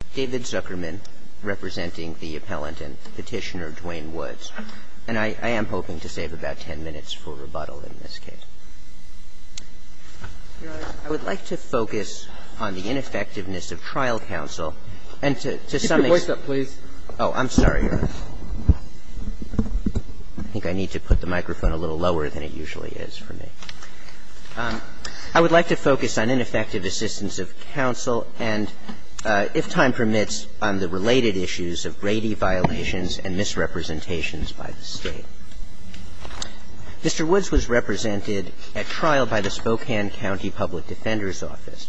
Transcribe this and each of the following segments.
and David Zuckerman representing the appellant and petitioner, Dwayne Woods. And I am hoping to save about 10 minutes for rebuttal in this case. Your Honor, I would like to focus on the ineffectiveness of trial counsel. And to sum it up – Keep your voice up, please. Oh, I'm sorry, Your Honor. I think I need to put the microphone a little lower than it usually is for me. I would like to focus on ineffective assistance of counsel. And, if time permits, on the related issues of Brady violations and misrepresentations by the State. Mr. Woods was represented at trial by the Spokane County Public Defender's Office,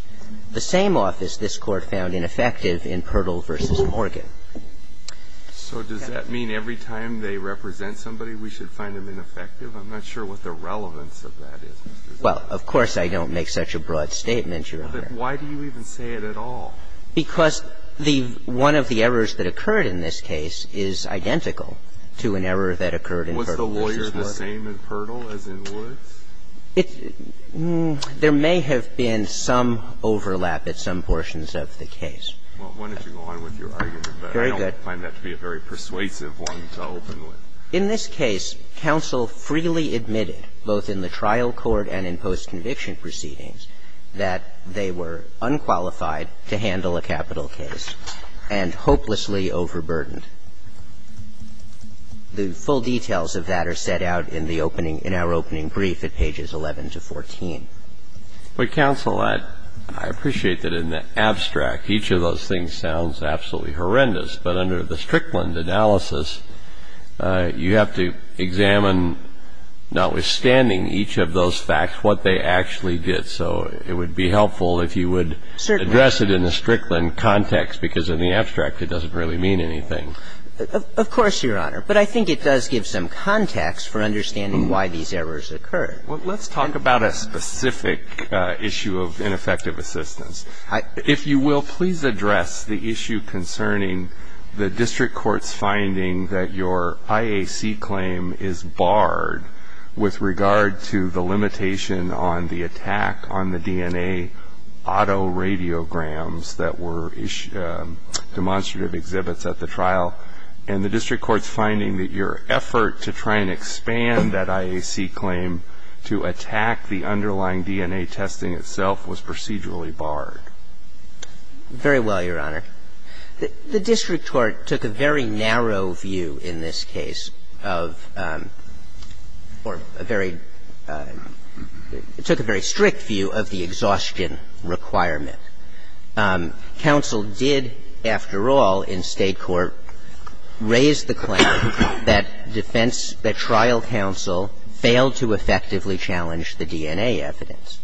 the same office this Court found ineffective in Pirtle v. Morgan. So does that mean every time they represent somebody, we should find them ineffective? I'm not sure what the relevance of that is. Well, of course I don't make such a broad statement, Your Honor. But why do you even say it at all? Because the – one of the errors that occurred in this case is identical to an error that occurred in Pirtle v. Woods. Was the lawyer the same in Pirtle as in Woods? It – there may have been some overlap at some portions of the case. Well, why don't you go on with your argument? Very good. But I don't find that to be a very persuasive one to open with. In this case, counsel freely admitted, both in the trial court and in post-conviction proceedings, that they were unqualified to handle a capital case and hopelessly overburdened. The full details of that are set out in the opening – in our opening brief at pages 11 to 14. But, counsel, I appreciate that in the abstract, each of those things sounds absolutely horrendous. But under the Strickland analysis, you have to examine, notwithstanding each of those facts, what they actually did. So it would be helpful if you would address it in the Strickland context, because in the abstract it doesn't really mean anything. Of course, Your Honor. But I think it does give some context for understanding why these errors occurred. Well, let's talk about a specific issue of ineffective assistance. If you will, please address the issue concerning the district court's finding that your IAC claim is barred with regard to the limitation on the attack on the DNA autoradiograms that were demonstrative exhibits at the trial and the district court's finding that your effort to try and expand that IAC claim to attack the underlying DNA testing itself was procedurally barred. Very well, Your Honor. The district court took a very narrow view in this case of – or a very – it took a very strict view of the exhaustion requirement. Counsel did, after all, in state court, raise the claim that defense – that trial counsel failed to effectively challenge the DNA evidence.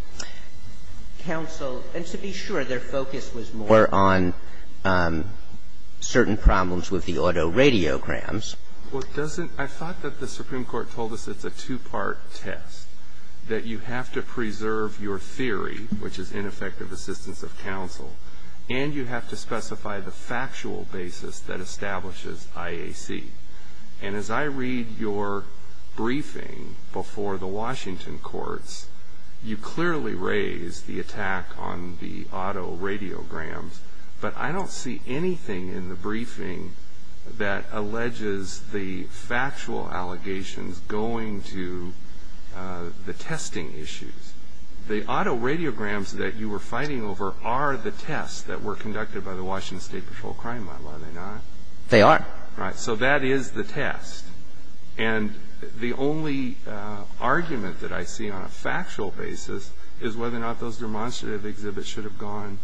Counsel – and to be sure, their focus was more on certain problems with the autoradiograms. Well, it doesn't – I thought that the Supreme Court told us it's a two-part test, that you have to preserve your theory, which is ineffective assistance of counsel, and you have to specify the factual basis that establishes IAC. And as I read your briefing before the Washington courts, you clearly raise the attack on the autoradiograms, but I don't see anything in the briefing that alleges the factual allegations going to the testing issues. The autoradiograms that you were fighting over are the tests that were conducted by the Washington State Patrol Crime Model, are they not? They are. Right. So that is the test. And the only argument that I see on a factual basis is whether or not those demonstrative exhibits should have gone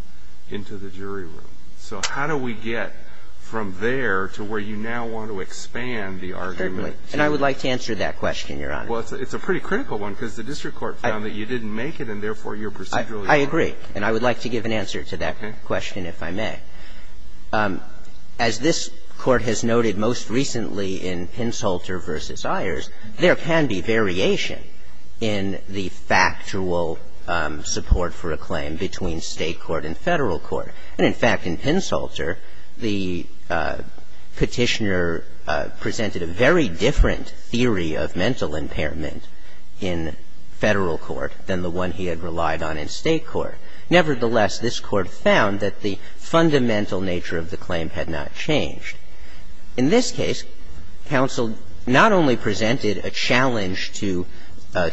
into the jury room. So how do we get from there to where you now want to expand the argument? Certainly. And I would like to answer that question, Your Honor. Well, it's a pretty critical one, because the district court found that you didn't make it, and therefore your – I agree, and I would like to give an answer to that question, if I may. As this court has noted most recently in Pinsulter v. Ayers, there can be variation in the factual support for a claim between state court and federal court. And in fact, in Pinsulter, the petitioner presented a very different theory of mental impairment in federal court than the one he had relied on in state court. Nevertheless, this court found that the fundamental nature of the claim had not changed. In this case, counsel not only presented a challenge to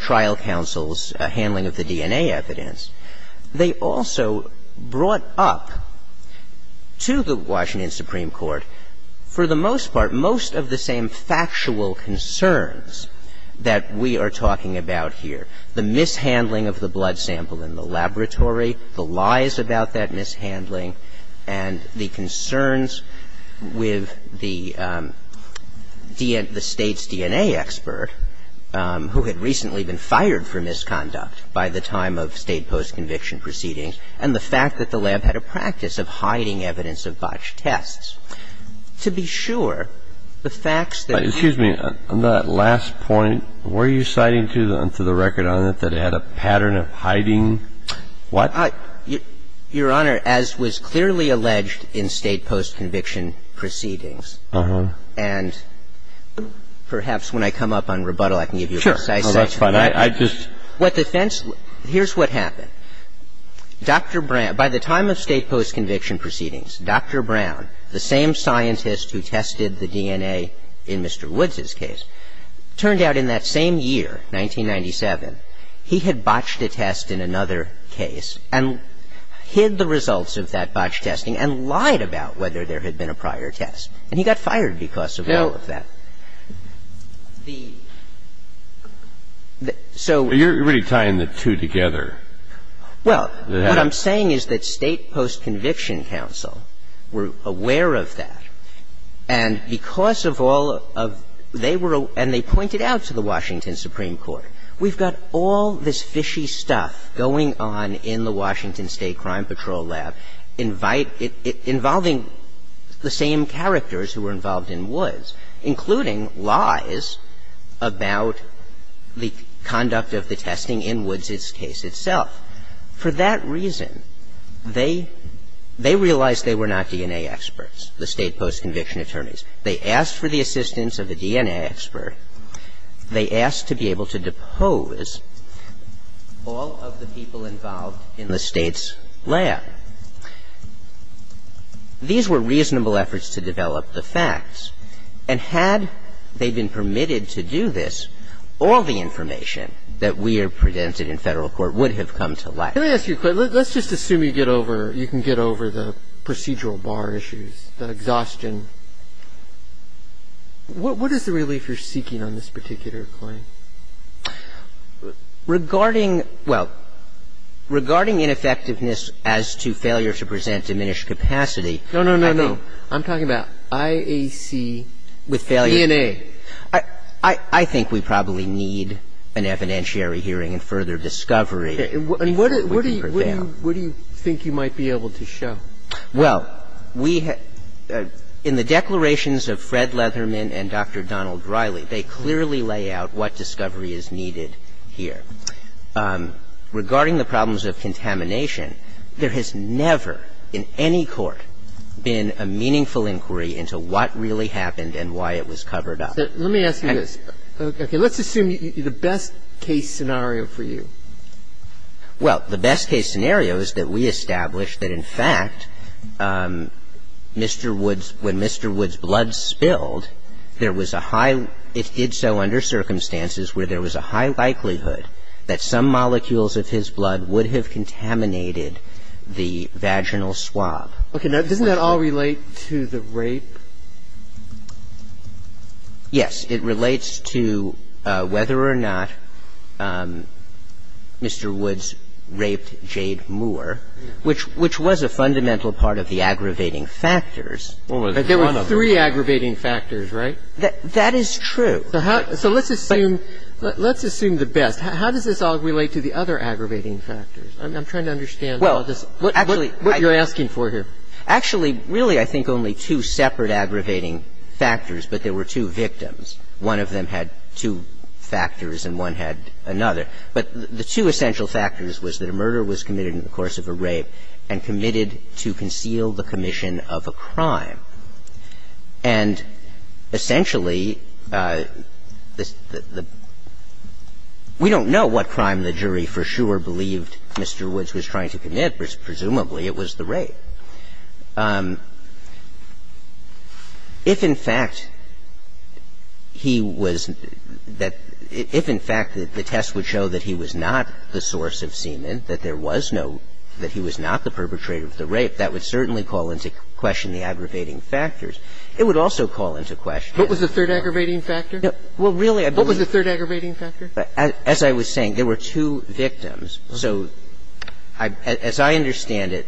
trial counsel's handling of the DNA evidence, they also brought up to the Washington Supreme Court, for the most part, most of the same factual concerns that we are talking about here, the mishandling of the blood sample in the laboratory, the lies about that mishandling, and the concerns with the state's DNA expert, who had recently been fired for misconduct by the time of state post-conviction proceedings, and the fact that the lab had a practice of hiding evidence of botched tests. To be sure, the facts that we've seen... Excuse me. On that last point, were you citing to the record on it that it had a pattern of hiding? What? Your Honor, as was clearly alleged in state post-conviction proceedings, and perhaps when I come up on rebuttal, I can give you a precise answer. Sure. No, that's fine. I just... Here's what happened. By the time of state post-conviction proceedings, Dr. Brown, the same scientist who tested the DNA in Mr. Woods' case, turned out in that same year, 1997, he had botched a test in another case and hid the results of that botched testing and lied about whether there had been a prior test, and he got fired because of all of that. The... So... You're really tying the two together. Well, what I'm saying is that state post-conviction counsel were aware of that, and because of all of... they were... and they pointed out to the Washington Supreme Court, we've got all this fishy stuff going on in the Washington State Crime Patrol lab, involving the same characters who were involved in Woods, including lies about the conduct of the testing in Woods' case itself. For that reason, they realized they were not DNA experts, the state post-conviction attorneys. They asked for the assistance of a DNA expert. They asked to be able to depose all of the people involved in the state's lab. These were reasonable efforts to develop the facts, and had they been permitted to do this, all the information that we have presented in federal court would have come to light. Let me ask you a question. Let's just assume you get over... you can get over the procedural bar issues, the exhaustion. What is the relief you're seeking on this particular claim? Regarding... well, regarding ineffectiveness as to failure to present diminished capacity... No, no, no, no. I'm talking about IAC, DNA. I think we probably need an evidentiary hearing and further discovery. And what do you think you might be able to show? Well, we... in the declarations of Fred Leatherman and Dr. Donald Riley, they clearly lay out what discovery is needed here. Regarding the problems of contamination, there has never in any court been a meaningful inquiry into what really happened and why it was covered up. Let me ask you this. Let's assume the best case scenario for you. Well, the best case scenario is that we established that, in fact, Mr. Wood's... when Mr. Wood's blood spilled, there was a high... it did so under circumstances where there was a high likelihood that some molecules of his blood would have contaminated the vaginal swab. Okay. Now, doesn't that all relate to the rape? Yes, it relates to whether or not Mr. Wood's raped Jade Moore, which was a fundamental part of the aggravating factors. There were three aggravating factors, right? That is true. So let's assume the best. How does this all relate to the other aggravating factors? I'm trying to understand what you're asking for here. Actually, really, I think only two separate aggravating factors, but there were two victims. One of them had two factors and one had another. But the two essential factors was that a murder was committed in the course of a rape and committed to conceal the commission of a crime. And essentially, we don't know what crime the jury for sure believed Mr. Wood's was trying to commit, but presumably it was the rape. If, in fact, he was... if, in fact, the test would show that he was not the source of semen, that there was no... that he was not the perpetrator of the rape, that would certainly call into question the aggravating factors. It would also call into question... What was the third aggravating factor? Well, really, I believe... What was the third aggravating factor? As I was saying, there were two victims. So as I understand it,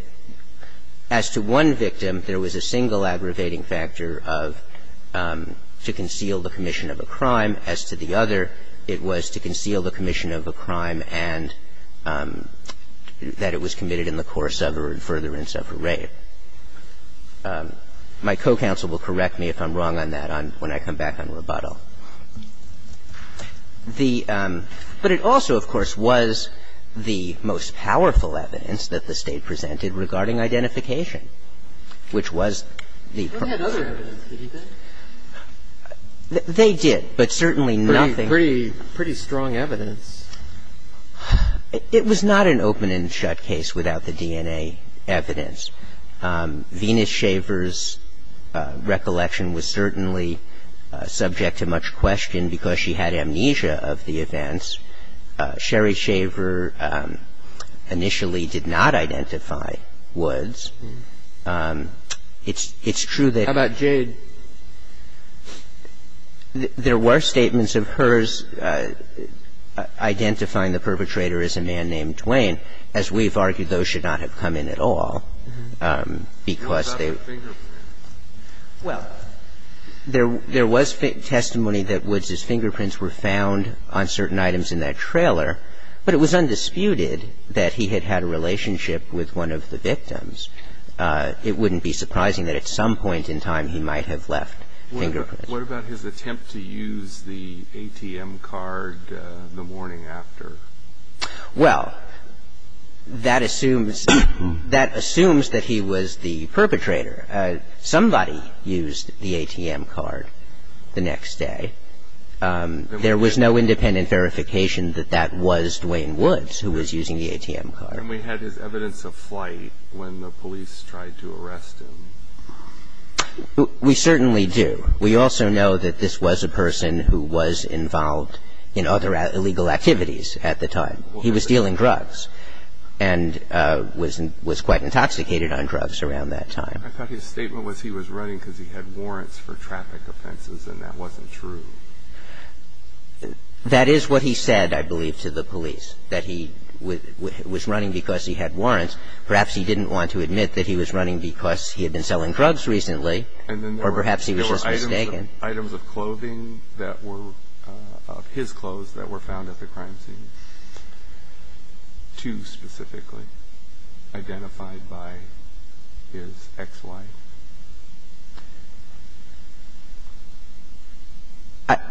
as to one victim, there was a single aggravating factor of to conceal the commission of a crime. As to the other, it was to conceal the commission of a crime and that it was committed in the course of or furtherance of a rape. My co-counsel will correct me if I'm wrong on that when I come back on the rebuttal. But it also, of course, was the most powerful evidence that the State presented regarding identification, which was the... They had other evidence, didn't they? They did, but certainly nothing... Pretty strong evidence. It was not an open-and-shut case without the DNA evidence. Venus Shaver's recollection was certainly subject to much question because she had amnesia of the events. Sherry Shaver initially did not identify Woods. It's true that... How about Jade? There were statements of hers identifying the perpetrator as a man named Dwayne. As we've argued, those should not have come in at all because they... What about the fingerprints? Well, there was testimony that Woods' fingerprints were found on certain items in that trailer, but it was undisputed that he had had a relationship with one of the victims. It wouldn't be surprising that at some point in time he might have left fingerprints. What about his attempt to use the ATM card the morning after? Well, that assumes that he was the perpetrator. Somebody used the ATM card the next day. There was no independent verification that that was Dwayne Woods who was using the ATM card. And we had his evidence of flight when the police tried to arrest him. We certainly do. We also know that this was a person who was involved in other illegal activities at the time. He was dealing drugs and was quite intoxicated on drugs around that time. I thought his statement was he was running because he had warrants for traffic offenses and that wasn't true. That is what he said, I believe, to the police, that he was running because he had warrants. Perhaps he didn't want to admit that he was running because he had been selling drugs recently or perhaps he was just mistaken. There were items of clothing that were of his clothes that were found at the crime scene. Two specifically identified by his ex-wife.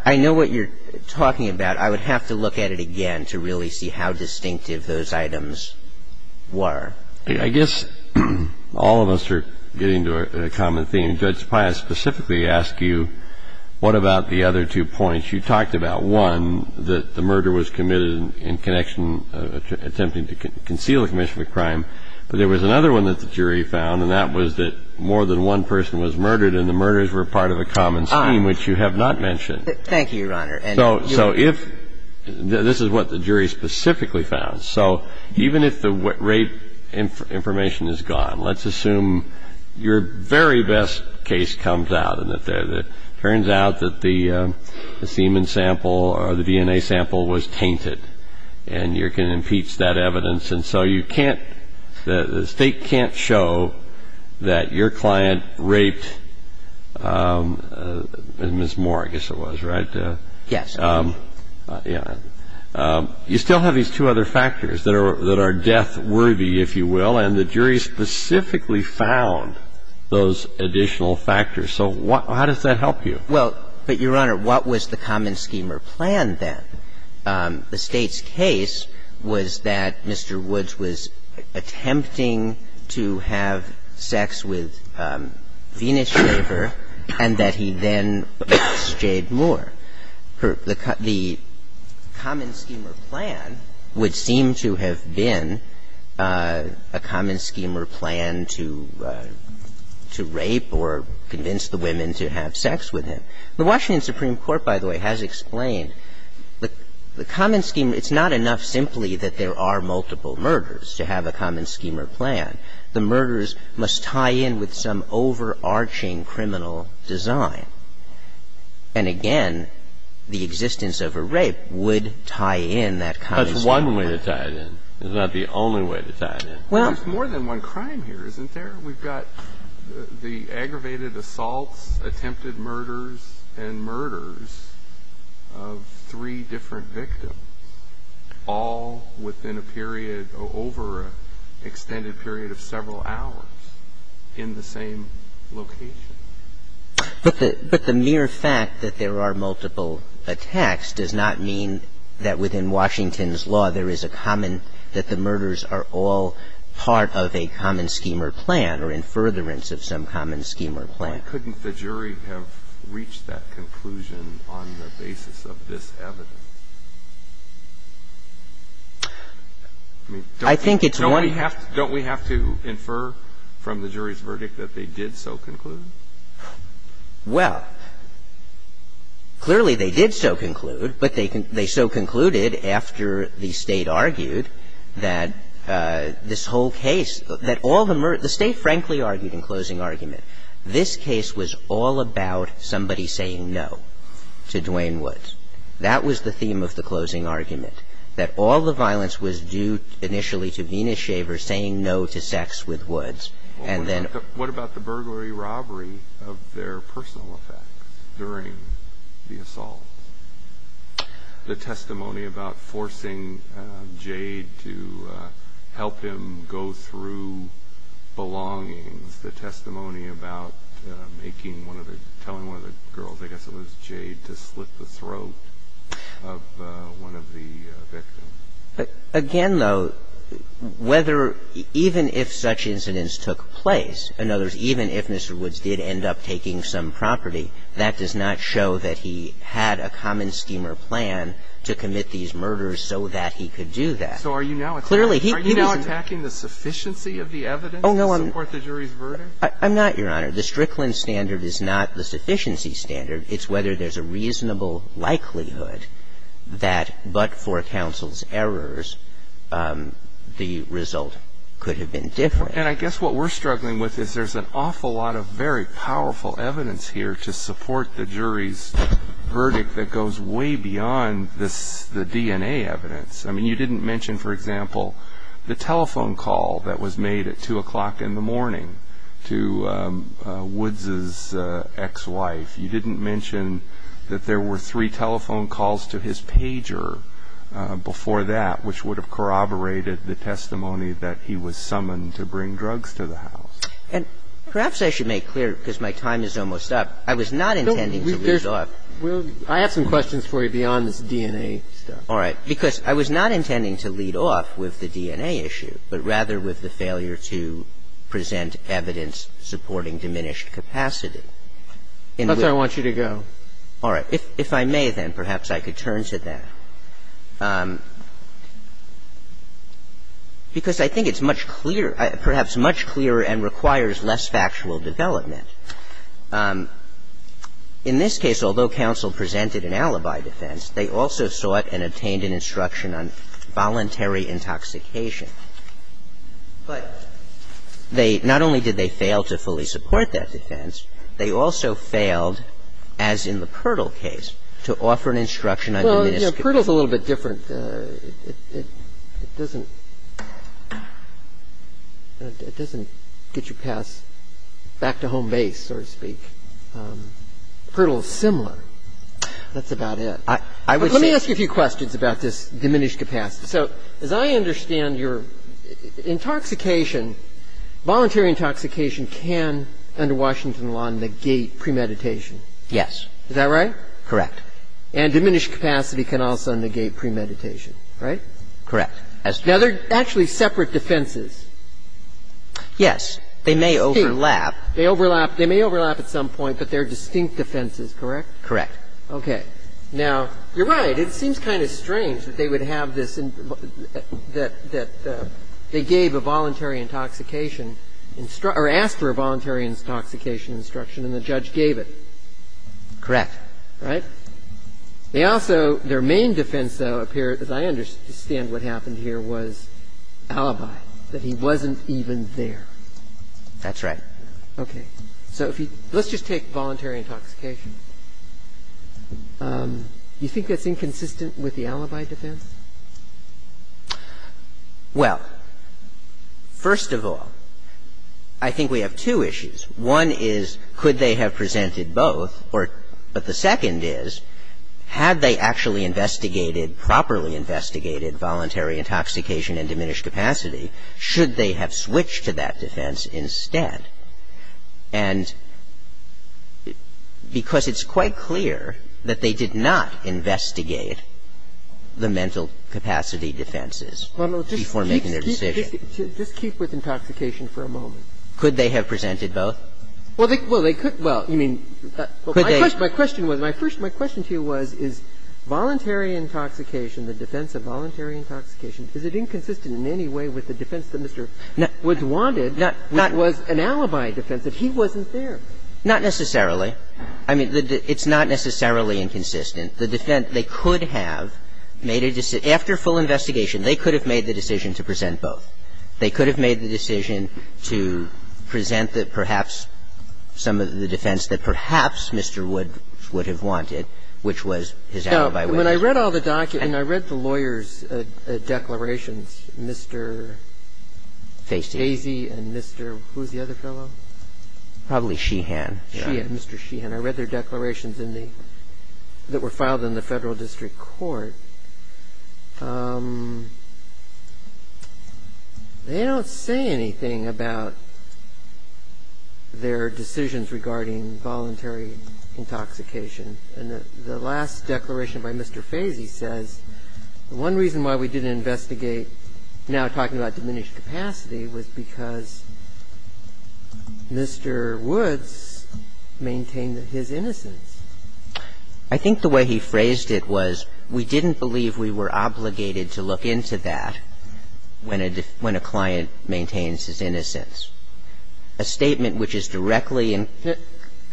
I know what you're talking about. I would have to look at it again to really see how distinctive those items were. I guess all of us are getting to a common theme. Judge Pius specifically asked you what about the other two points you talked about. One, that the murder was committed in connection, attempting to conceal a commission of crime. There was another one that the jury found, and that was that more than one person was murdered and the murders were part of a common scheme, which you have not mentioned. Thank you, Your Honor. This is what the jury specifically found. Even if the rape information is gone, let's assume your very best case comes out and it turns out that the semen sample or the DNA sample was tainted and you can impeach that evidence. So the state can't show that your client raped Ms. Moore, I guess it was, right? Yes. You still have these two other factors that are death-worthy, if you will, and the jury specifically found those additional factors. So how does that help you? Well, but Your Honor, what was the common scheme or plan then? The state's case was that Mr. Woods was attempting to have sex with Venus Weber and that he then raped Ms. Jade Moore. The common scheme or plan would seem to have been a common scheme or plan to rape or convince the women to have sex with him. The Washington Supreme Court, by the way, has explained the common scheme. It's not enough simply that there are multiple murders to have a common scheme or plan. The murders must tie in with some overarching criminal design. And again, the existence of a rape would tie in that common scheme. That's one way to tie it in. It's not the only way to tie it in. There's more than one crime here, isn't there? We've got the aggravated assault, attempted murders, and murders of three different victims, all within a period or over an extended period of several hours in the same location. But the mere fact that there are multiple attacks does not mean that within Washington's law there is a common, that the murders are all part of a common scheme or plan or in furtherance of some common scheme or plan. Why couldn't the jury have reached that conclusion on the basis of this evidence? I think it's one... Don't we have to infer from the jury's verdict that they did so conclude? Well, clearly they did so conclude, but they so concluded after the State argued that this whole case, that all the murders, the State frankly argued in closing argument, this case was all about somebody saying no to Duane Woods. That was the theme of the closing argument. That all the violence was due initially to Dina Shaver saying no to sex with Woods, and then... What about the burglary robbery of their personal effect during the assault? The testimony about forcing Jade to help him go through belongings, the testimony about making one of the, telling one of the girls, I guess it was Jade, to slit the throat of one of the victims. Again, though, whether, even if such incidents took place, in other words, even if Mr. Woods did end up taking some property, that does not show that he had a common scheme or plan to commit these murders so that he could do that. So are you now attacking the sufficiency of the evidence to support the jury's verdict? I'm not, Your Honor. The Strickland standard is not the sufficiency standard. It's whether there's a reasonable likelihood that but for counsel's errors the result could have been different. And I guess what we're struggling with is there's an awful lot of very powerful evidence here to support the jury's verdict that goes way beyond the DNA evidence. I mean, you didn't mention, for example, the telephone call that was made at 2 o'clock in the morning to Woods' ex-wife. You didn't mention that there were three telephone calls to his pager before that, which would have corroborated the testimony that he was summoned to bring drugs to the house. And perhaps I should make clear, because my time is almost up, I was not intending to lead off. I have some questions for you beyond DNA. All right. Because I was not intending to lead off with the DNA issue, but rather with the failure to present evidence supporting diminished capacity. Okay. I want you to go. All right. If I may, then, perhaps I could turn to that. Because I think it's much clearer, perhaps much clearer and requires less factual development. In this case, although counsel presented an alibi defense, they also sought and obtained an instruction on voluntary intoxication. But not only did they fail to fully support that defense, they also failed, as in the Pirtle case, to offer an instruction on diminished capacity. Well, you know, Pirtle's a little bit different. It doesn't get you past back-to-home base, so to speak. Pirtle is similar. That's about it. Let me ask you a few questions about this diminished capacity. So, as I understand your intoxication, voluntary intoxication can, under Washington law, negate premeditation. Yes. Is that right? Correct. And diminished capacity can also negate premeditation, right? Correct. Now, they're actually separate defenses. Yes. They may overlap. They may overlap at some point, but they're distinct defenses, correct? Correct. Okay. Now, you're right. It seems kind of strange that they would have this – that they gave a voluntary intoxication – or asked for a voluntary intoxication instruction, and the judge gave it. Correct. Right? They also – their main defense, though, appeared, as I understand what happened here, was alibi, that he wasn't even there. That's right. Okay. So let's just take voluntary intoxication. Do you think that's inconsistent with the alibi defense? Well, first of all, I think we have two issues. One is, could they have presented both? But the second is, had they actually investigated, properly investigated voluntary intoxication and diminished capacity, should they have switched to that defense instead? And because it's quite clear that they did not investigate the mental capacity defenses before making their decision. Just keep with intoxication for a moment. Could they have presented both? Well, they could. Well, I mean, my question to you was, is voluntary intoxication, the defense of voluntary intoxication, is it inconsistent in any way with the defense that Mr. was wanted? That was an alibi defense, that he wasn't there. Not necessarily. I mean, it's not necessarily inconsistent. The defense, they could have made a – after full investigation, they could have made the decision to present both. They could have made the decision to present that perhaps – some of the defense that perhaps Mr. Wood would have wanted, which was his alibi. Now, when I read all the documents, And I read the lawyers' declarations, Mr. Fazy and Mr. – who was the other fellow? Probably Sheehan. Sheehan, Mr. Sheehan. I read their declarations in the – that were filed in the Federal District Court. They don't say anything about their decisions regarding voluntary intoxication. And the last declaration by Mr. Fazy says, one reason why we didn't investigate, now talking about diminished capacity, was because Mr. Woods maintained his innocence. I think the way he phrased it was, we didn't believe we were obligated to look into that when a client maintains his innocence. A statement which is directly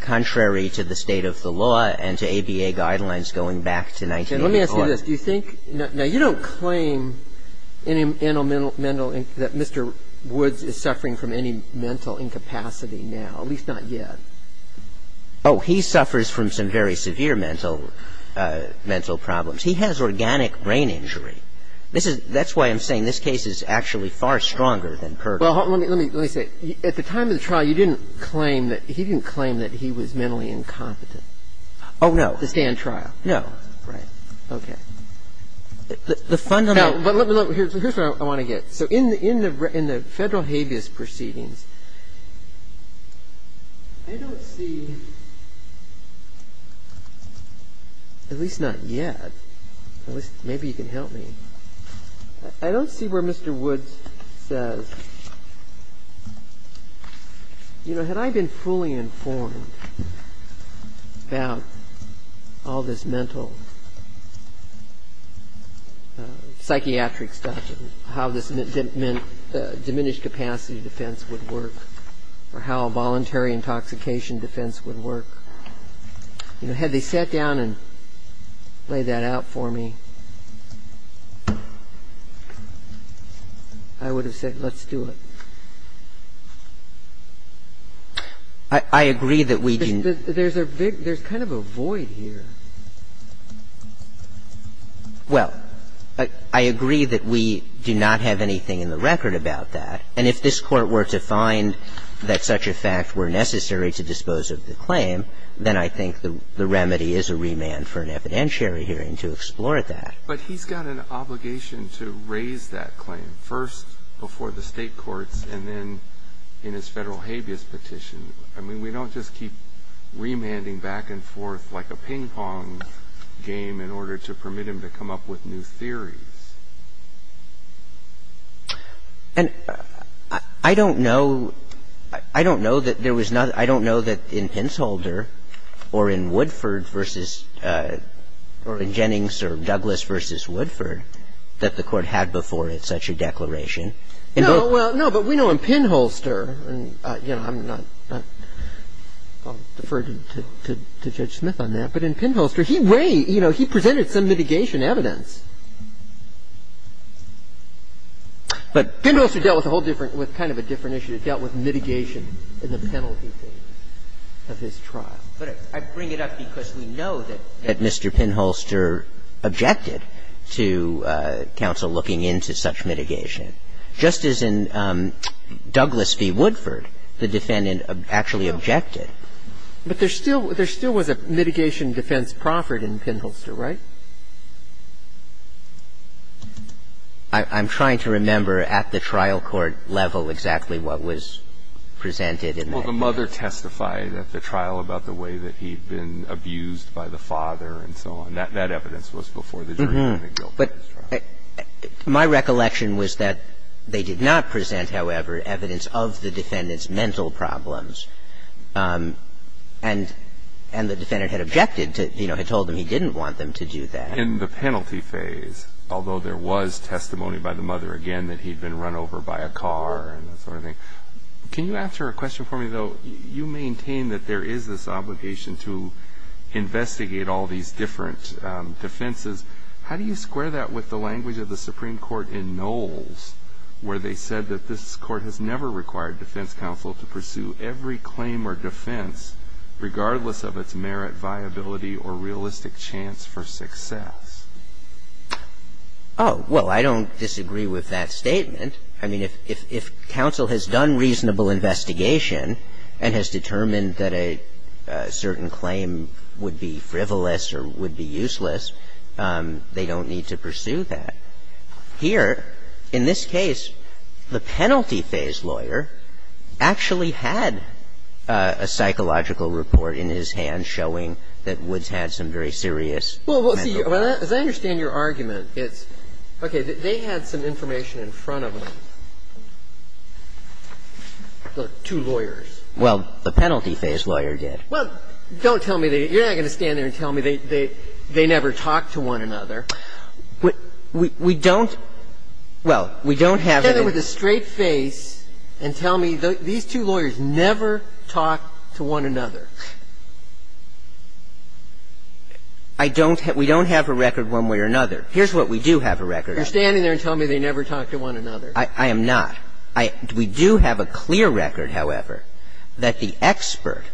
contrary to the state of the law and to ABA guidelines going back to 1984. Let me ask you this. Do you think – now, you don't claim that Mr. Woods is suffering from any mental incapacity now, at least not yet. Oh, he suffers from some very severe mental problems. He has organic brain injury. That's why I'm saying this case is actually far stronger than Kirk's. Well, let me say, at the time of the trial, you didn't claim that – he didn't claim that he was mentally incompetent. Oh, no. This day in trial. No. Right. Okay. The fundamental – No, but look, here's what I want to get. So in the Federal habeas proceedings, I don't see – at least not yet. Maybe you can help me. I don't see where Mr. Woods – you know, had I been fully informed about all this mental – psychiatric stuff, how this diminished capacity defense would work or how a voluntary intoxication defense would work, you know, had they sat down and laid that out for me, I would have said, let's do it. I agree that we – There's a big – there's kind of a void here. Well, I agree that we do not have anything in the record about that. And if this court were to find that such a fact were necessary to dispose of the claim, then I think the remedy is a remand for an evidentiary hearing to explore that. But he's got an obligation to raise that claim first before the state courts and then in his Federal habeas petition. I mean, we don't just keep remanding back and forth like a ping-pong game in order to permit him to come up with new theories. And I don't know – I don't know that there was not – I don't know that in Pinsholder or in Woodford v. – or in Jennings or Douglas v. Woodford that the court had before it such a declaration. No, well, no, but we know in Pinholster – and, you know, I'm not – I'll defer to Judge Smith on that. But in Pinholster, he way – you know, he presented some mitigation evidence. But Pinholster dealt with a whole different – with kind of a different issue. It dealt with mitigation in the penalty phase of his trial. But I bring it up because we know that Mr. Pinholster objected to counsel looking into such mitigation. Just as in Douglas v. Woodford, the defendant actually objected. But there still – there still was a mitigation defense proffered in Pinholster, right? I'm trying to remember at the trial court level exactly what was presented in that case. Well, the mother testified at the trial about the way that he'd been abused by the father and so on. That evidence was before the judge. But my recollection was that they did not present, however, evidence of the defendant's mental problems. And the defendant had objected to – you know, he told them he didn't want them to do that. In the penalty phase, although there was testimony by the mother again that he'd been run over by a car and that sort of thing. Can you answer a question for me, though? You maintain that there is this obligation to investigate all these different defenses. How do you square that with the language of the Supreme Court in Knowles, where they said that this court has never required defense counsel to pursue every claim or defense, regardless of its merit, viability, or realistic chance for success? Oh, well, I don't disagree with that statement. I mean, if counsel has done reasonable investigation and has determined that a certain claim would be frivolous or would be useless, they don't need to pursue that. Here, in this case, the penalty phase lawyer actually had a psychological report in his hand showing that Woods had some very serious mental problems. Well, as I understand your argument, it's – okay, they had some information in front of them, the two lawyers. Well, the penalty phase lawyer did. Well, don't tell me they – you're not going to stand there and tell me they never talked to one another. We don't – well, we don't have – You said there was a straight face and tell me these two lawyers never talked to one another. I don't – we don't have a record one way or another. Here's what we do have a record of. You're standing there and telling me they never talked to one another. I am not. We do have a clear record, however, that the expert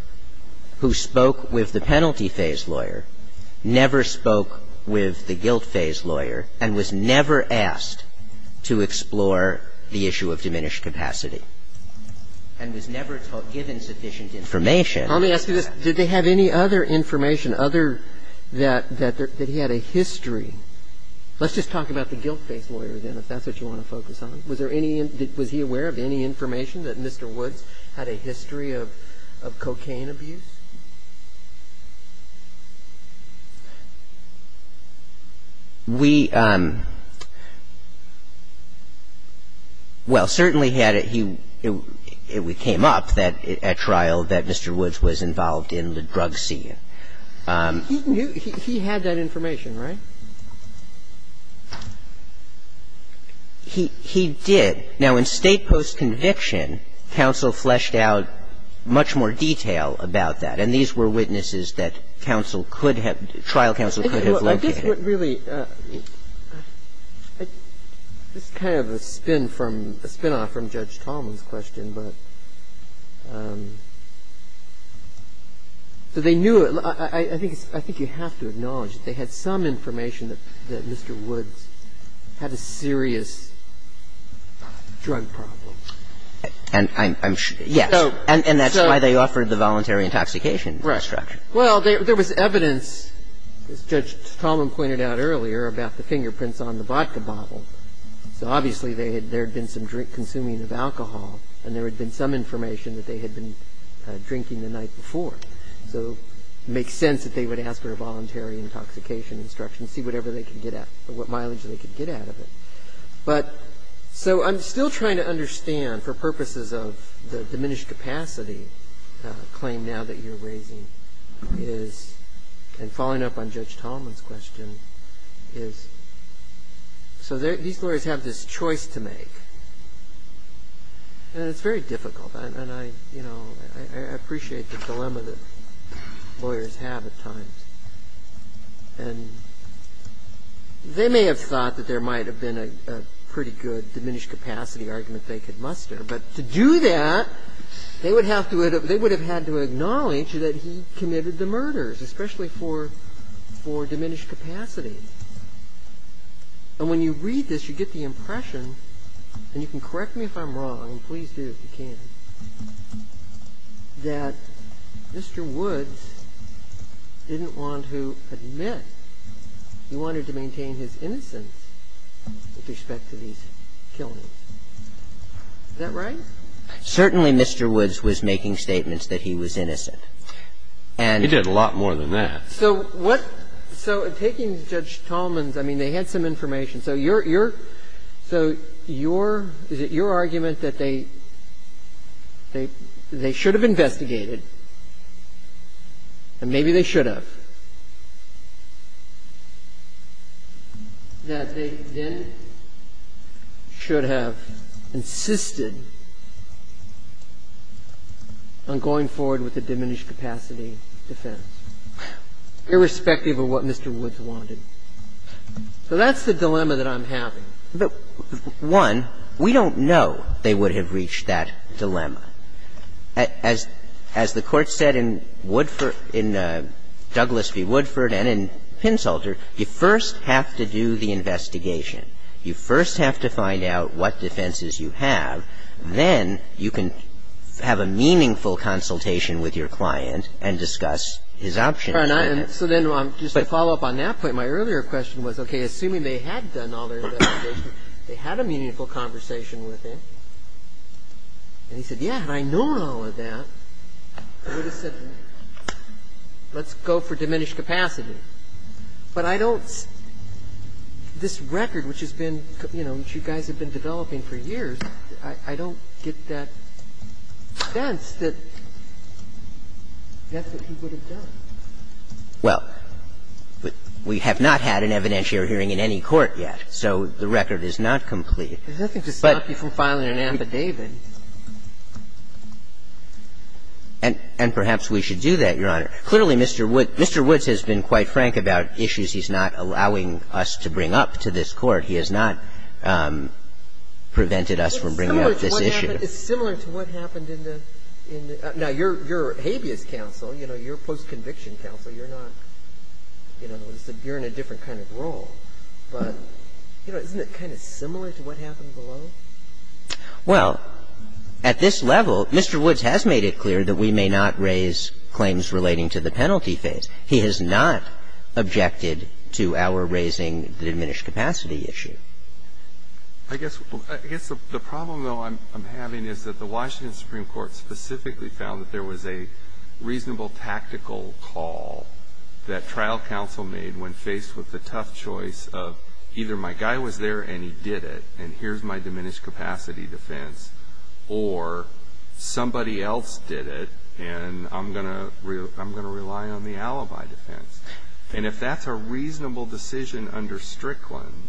who spoke with the penalty phase lawyer never spoke with the guilt phase lawyer and was never asked to explore the issue of diminished capacity. And was never given sufficient information. Let me ask you this. Did they have any other information other – that he had a history? Let's just talk about the guilt phase lawyer, then, if that's what you want to focus on. Was there any – was he aware of any information that Mr. Woods had a history of cocaine abuse? We – well, certainly he had – it came up at trial that Mr. Woods was involved in the drug scene. He had that information, right? He did. Now, in state post-conviction, counsel fleshed out much more detail about that. And these were witnesses that counsel could have – trial counsel could have looked at it. I think what really – just kind of a spin from – a spinoff from Judge Tolman's question. But they knew – I think you have to acknowledge that they had some information that Mr. Woods had a serious drug problem. And I'm – yeah. And that's why they offered the voluntary intoxication instruction. Right. Well, there was evidence, as Judge Tolman pointed out earlier, about the fingerprints on the vodka bottle. Obviously, there had been some consuming of alcohol, and there had been some information that they had been drinking the night before. So it makes sense that they would ask for a voluntary intoxication instruction, see whatever they could get at – what mileage they could get out of it. But – so I'm still trying to understand, for purposes of the diminished capacity claim now that you're raising, is – and following up on Judge Tolman's question, is – so these lawyers have this choice to make. And it's very difficult. And I – you know, I appreciate the dilemma that lawyers have at times. And they may have thought that there might have been a pretty good diminished capacity argument they could muster. But to do that, they would have to – they would have had to acknowledge that he committed the murders, especially for diminished capacity. And when you read this, you get the impression – and you can correct me if I'm wrong, please do if you can – that Mr. Woods didn't want to admit he wanted to maintain his innocence with respect to these killings. Is that right? Certainly, Mr. Woods was making statements that he was innocent. He did a lot more than that. So what – so taking Judge Tolman's – I mean, they had some information. So your – so your – is it your argument that they should have investigated, and maybe they should have, that they then should have insisted on going forward with the diminished capacity defense, irrespective of what Mr. Woods wanted? So that's the dilemma that I'm having. One, we don't know they would have reached that dilemma. As the Court said in Woodford – in Douglas v. Woodford and in Pinsulter, you first have to do the investigation. You first have to find out what defenses you have. Then you can have a meaningful consultation with your client and discuss his options. So then, just to follow up on that point, my earlier question was, okay, assuming they had done all their investigation, they had a meaningful conversation with him, and he said, yeah, had I known all of that, I would have said, let's go for diminished capacity. But I don't – this record, which has been – you know, which you guys have been developing for years, I don't get that sense that that's what he would have done. Well, we have not had an evidentiary hearing in any court yet, so the record is not complete. There's nothing to stop you from filing an affidavit. And perhaps we should do that, Your Honor. Clearly, Mr. Woods has been quite frank about issues he's not allowing us to bring up to this Court. He has not prevented us from bringing up this issue. It's similar to what happened in the – now, you're habeas counsel. You know, you're a post-conviction counsel. You're not – you know, you're in a different kind of role. But, you know, isn't it kind of similar to what happened below? Well, at this level, Mr. Woods has made it clear that we may not raise claims relating to the penalty phase. He has not objected to our raising the diminished capacity issue. I guess the problem, though, I'm having is that the Washington Supreme Court specifically found that there was a reasonable tactical call that trial counsel made when faced with the tough choice of either my guy was there and he did it, and here's my diminished capacity defense, or somebody else did it, and I'm going to rely on the alibi defense. And if that's a reasonable decision under Strickland,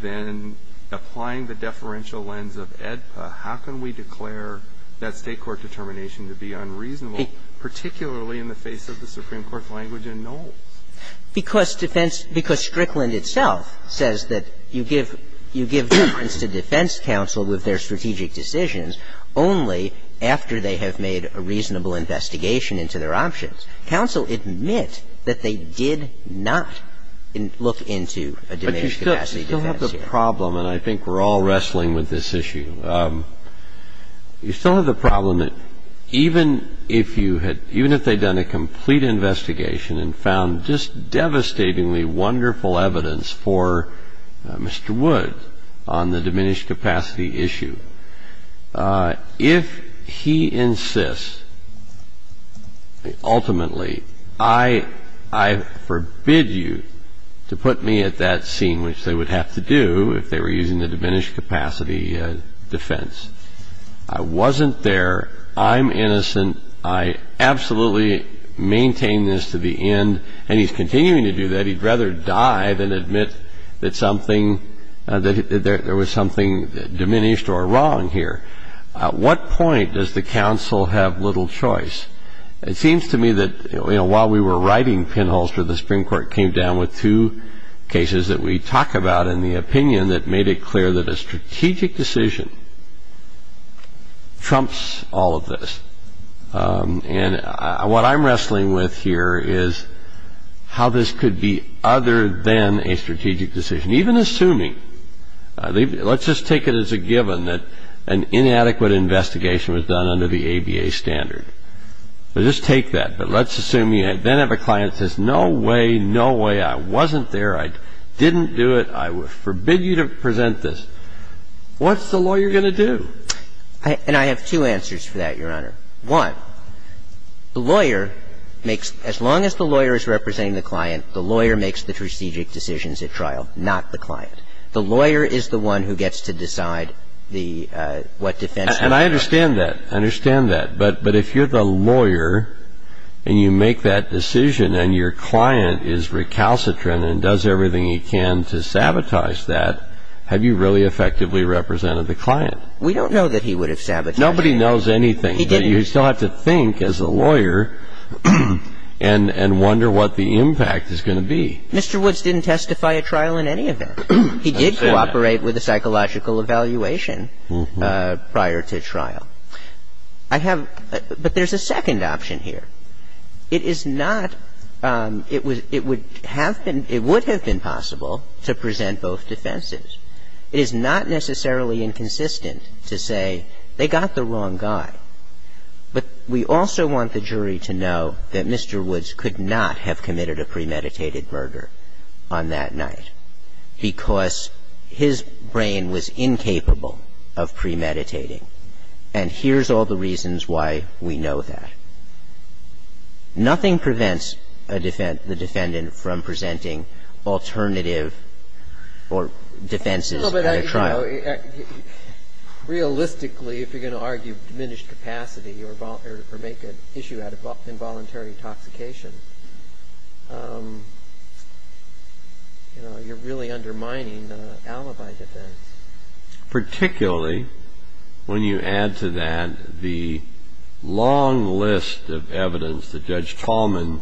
then applying the deferential lens of AEDPA, how can we declare that state court determination to be unreasonable, particularly in the face of the Supreme Court's language in Knowles? Because defense – because Strickland itself says that you give defense to defense counsel with their strategic decisions only after they have made a reasonable investigation into their options. Counsel admits that they did not look into a diminished capacity defense. You still have the problem, and I think we're all wrestling with this issue. You still have the problem that even if you had – even if they'd done a complete investigation and found just devastatingly wonderful evidence for Mr. Woods on the diminished capacity issue, if he insists, ultimately, I forbid you to put me at that scene, which they would have to do if they were using the diminished capacity defense. I wasn't there. I'm innocent. I absolutely maintain this to the end. And he's continuing to do that. He'd rather die than admit that something – that there was something diminished or wrong here. At what point does the counsel have little choice? It seems to me that while we were writing Penholster, the Supreme Court came down with two cases that we talk about in the opinion that made it clear that a strategic decision trumps all of this. And what I'm wrestling with here is how this could be other than a strategic decision, even assuming – let's just take it as a given that an inadequate investigation was done under the ABA standard. So just take that, but let's assume you then have a client that says, no way, no way, I wasn't there, I didn't do it, I forbid you to present this. What's the lawyer going to do? And I have two answers for that, Your Honor. One, the lawyer makes – as long as the lawyer is representing the client, the lawyer makes the strategic decisions at trial, not the client. The lawyer is the one who gets to decide what defense – And I understand that. I understand that. But if you're the lawyer and you make that decision and your client is recalcitrant and does everything he can to sabotage that, have you really effectively represented the client? We don't know that he would have sabotaged it. Nobody knows anything. You still have to think as a lawyer and wonder what the impact is going to be. Mr. Woods didn't testify at trial in any event. He did cooperate with a psychological evaluation prior to trial. I have – but there's a second option here. It is not – it would have been possible to present both defenses. It is not necessarily inconsistent to say they got the wrong guy. But we also want the jury to know that Mr. Woods could not have committed a premeditated murder on that night because his brain was incapable of premeditating. And here's all the reasons why we know that. Nothing prevents the defendant from presenting alternative defenses at a trial. Realistically, if you're going to argue diminished capacity or make an issue out of involuntary intoxication, you're really undermining the alibi defense. Particularly when you add to that the long list of evidence that Judge Tallman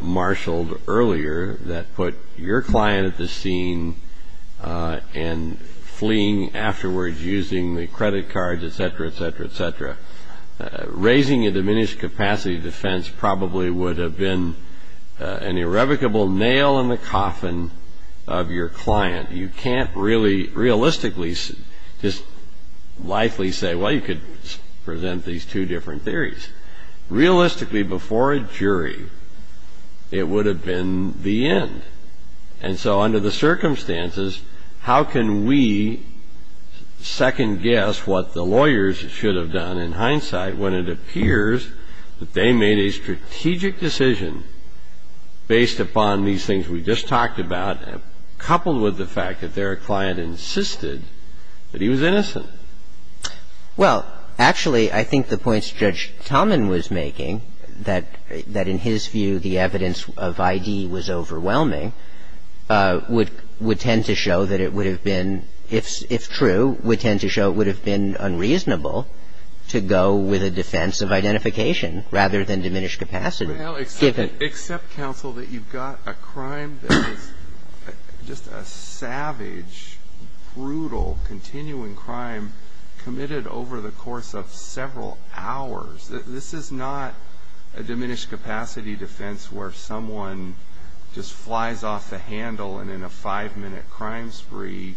marshaled earlier that put your client at the scene and fleeing afterwards using the credit cards, et cetera, et cetera, et cetera. Raising a diminished capacity defense probably would have been an irrevocable nail in the coffin of your client. You can't really realistically just likely say, well, you could present these two different theories. Realistically, before a jury, it would have been the end. And so under the circumstances, how can we second guess what the lawyers should have done in hindsight when it appears that they made a strategic decision based upon these things we just talked about coupled with the fact that their client insisted that he was innocent? Well, actually, I think the points Judge Tallman was making, that in his view the evidence of I.D. was overwhelming, would tend to show that it would have been, if true, would tend to show it would have been unreasonable to go with a defense of identification rather than diminished capacity. Except, counsel, that you've got a crime, just a savage, brutal, continuing crime committed over the course of several hours. This is not a diminished capacity defense where someone just flies off the handle and in a five-minute crime spree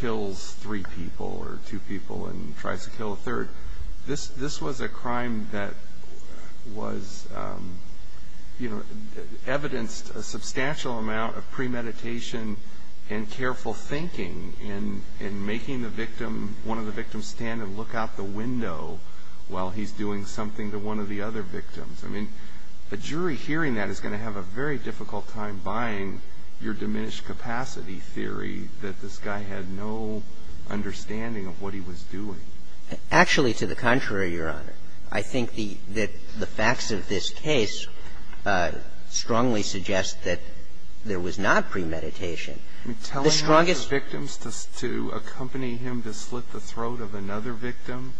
kills three people or two people and tries to kill a third. This was a crime that was, you know, evidenced a substantial amount of premeditation and careful thinking in making the victim, one of the victims, stand and look out the window while he's doing something to one of the other victims. I mean, the jury hearing that is going to have a very difficult time buying your diminished capacity theory that this guy had no understanding of what he was doing. Actually, to the contrary, Your Honor, I think that the facts of this case strongly suggest that there was not premeditation. Telling one of the victims to accompany him to split the throat of another victim,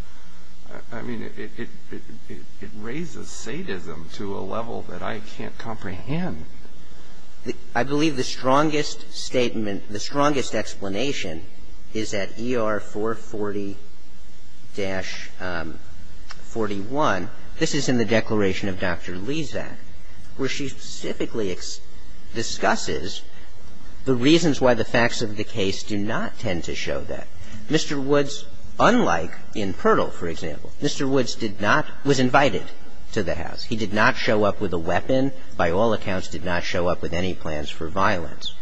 I mean, it raises sadism to a level that I can't comprehend. I believe the strongest statement, the strongest explanation is at ER 440-41. This is in the Declaration of Dr. Lezak, where she specifically discusses the reasons why the facts of the case do not tend to show that. Mr. Woods, unlike in Pirtle, for example, Mr. Woods did not – was invited to the house. He did not show up with a weapon. By all accounts, did not show up with any plans for violence.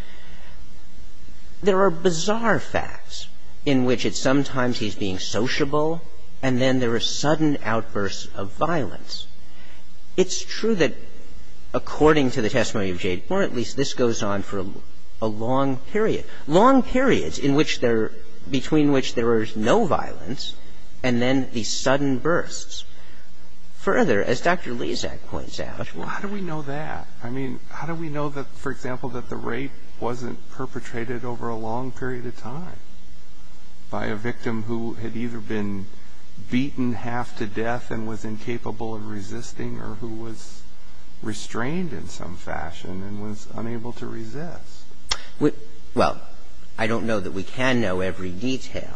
There are bizarre facts in which at some times he's being sociable, and then there are sudden outbursts of violence. It's true that according to the testimony of Jade, or at least this goes on for a long period, long periods in which there – between which there was no violence, and then these sudden bursts. Further, as Dr. Lezak points out – How do we know that? I mean, how do we know that, for example, that the rape wasn't perpetrated over a long period of time by a victim who had either been beaten half to death and was incapable of resisting or who was restrained in some fashion and was unable to resist? Well, I don't know that we can know every detail.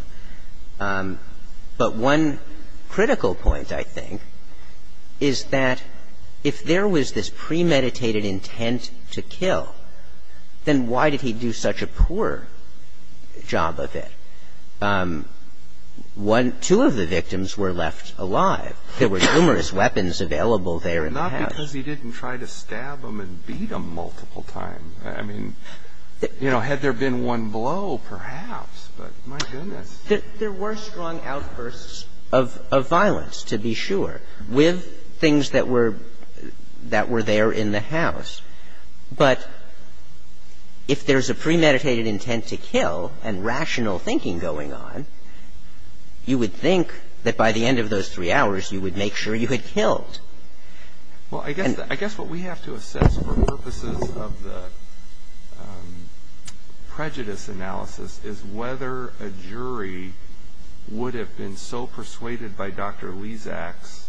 But one critical point, I think, is that if there was this premeditated intent to kill, then why did he do such a poor job of it? Two of the victims were left alive. There were numerous weapons available there in the house. Not because he didn't try to stab them and beat them multiple times. Had there been one blow, perhaps, but my goodness. There were strong outbursts of violence, to be sure, with things that were there in the house. But if there's a premeditated intent to kill and rational thinking going on, you would think that by the end of those three hours you would make sure you had killed. Well, I guess what we have to assess for purposes of the prejudice analysis is whether a jury would have been so persuaded by Dr. Lezak's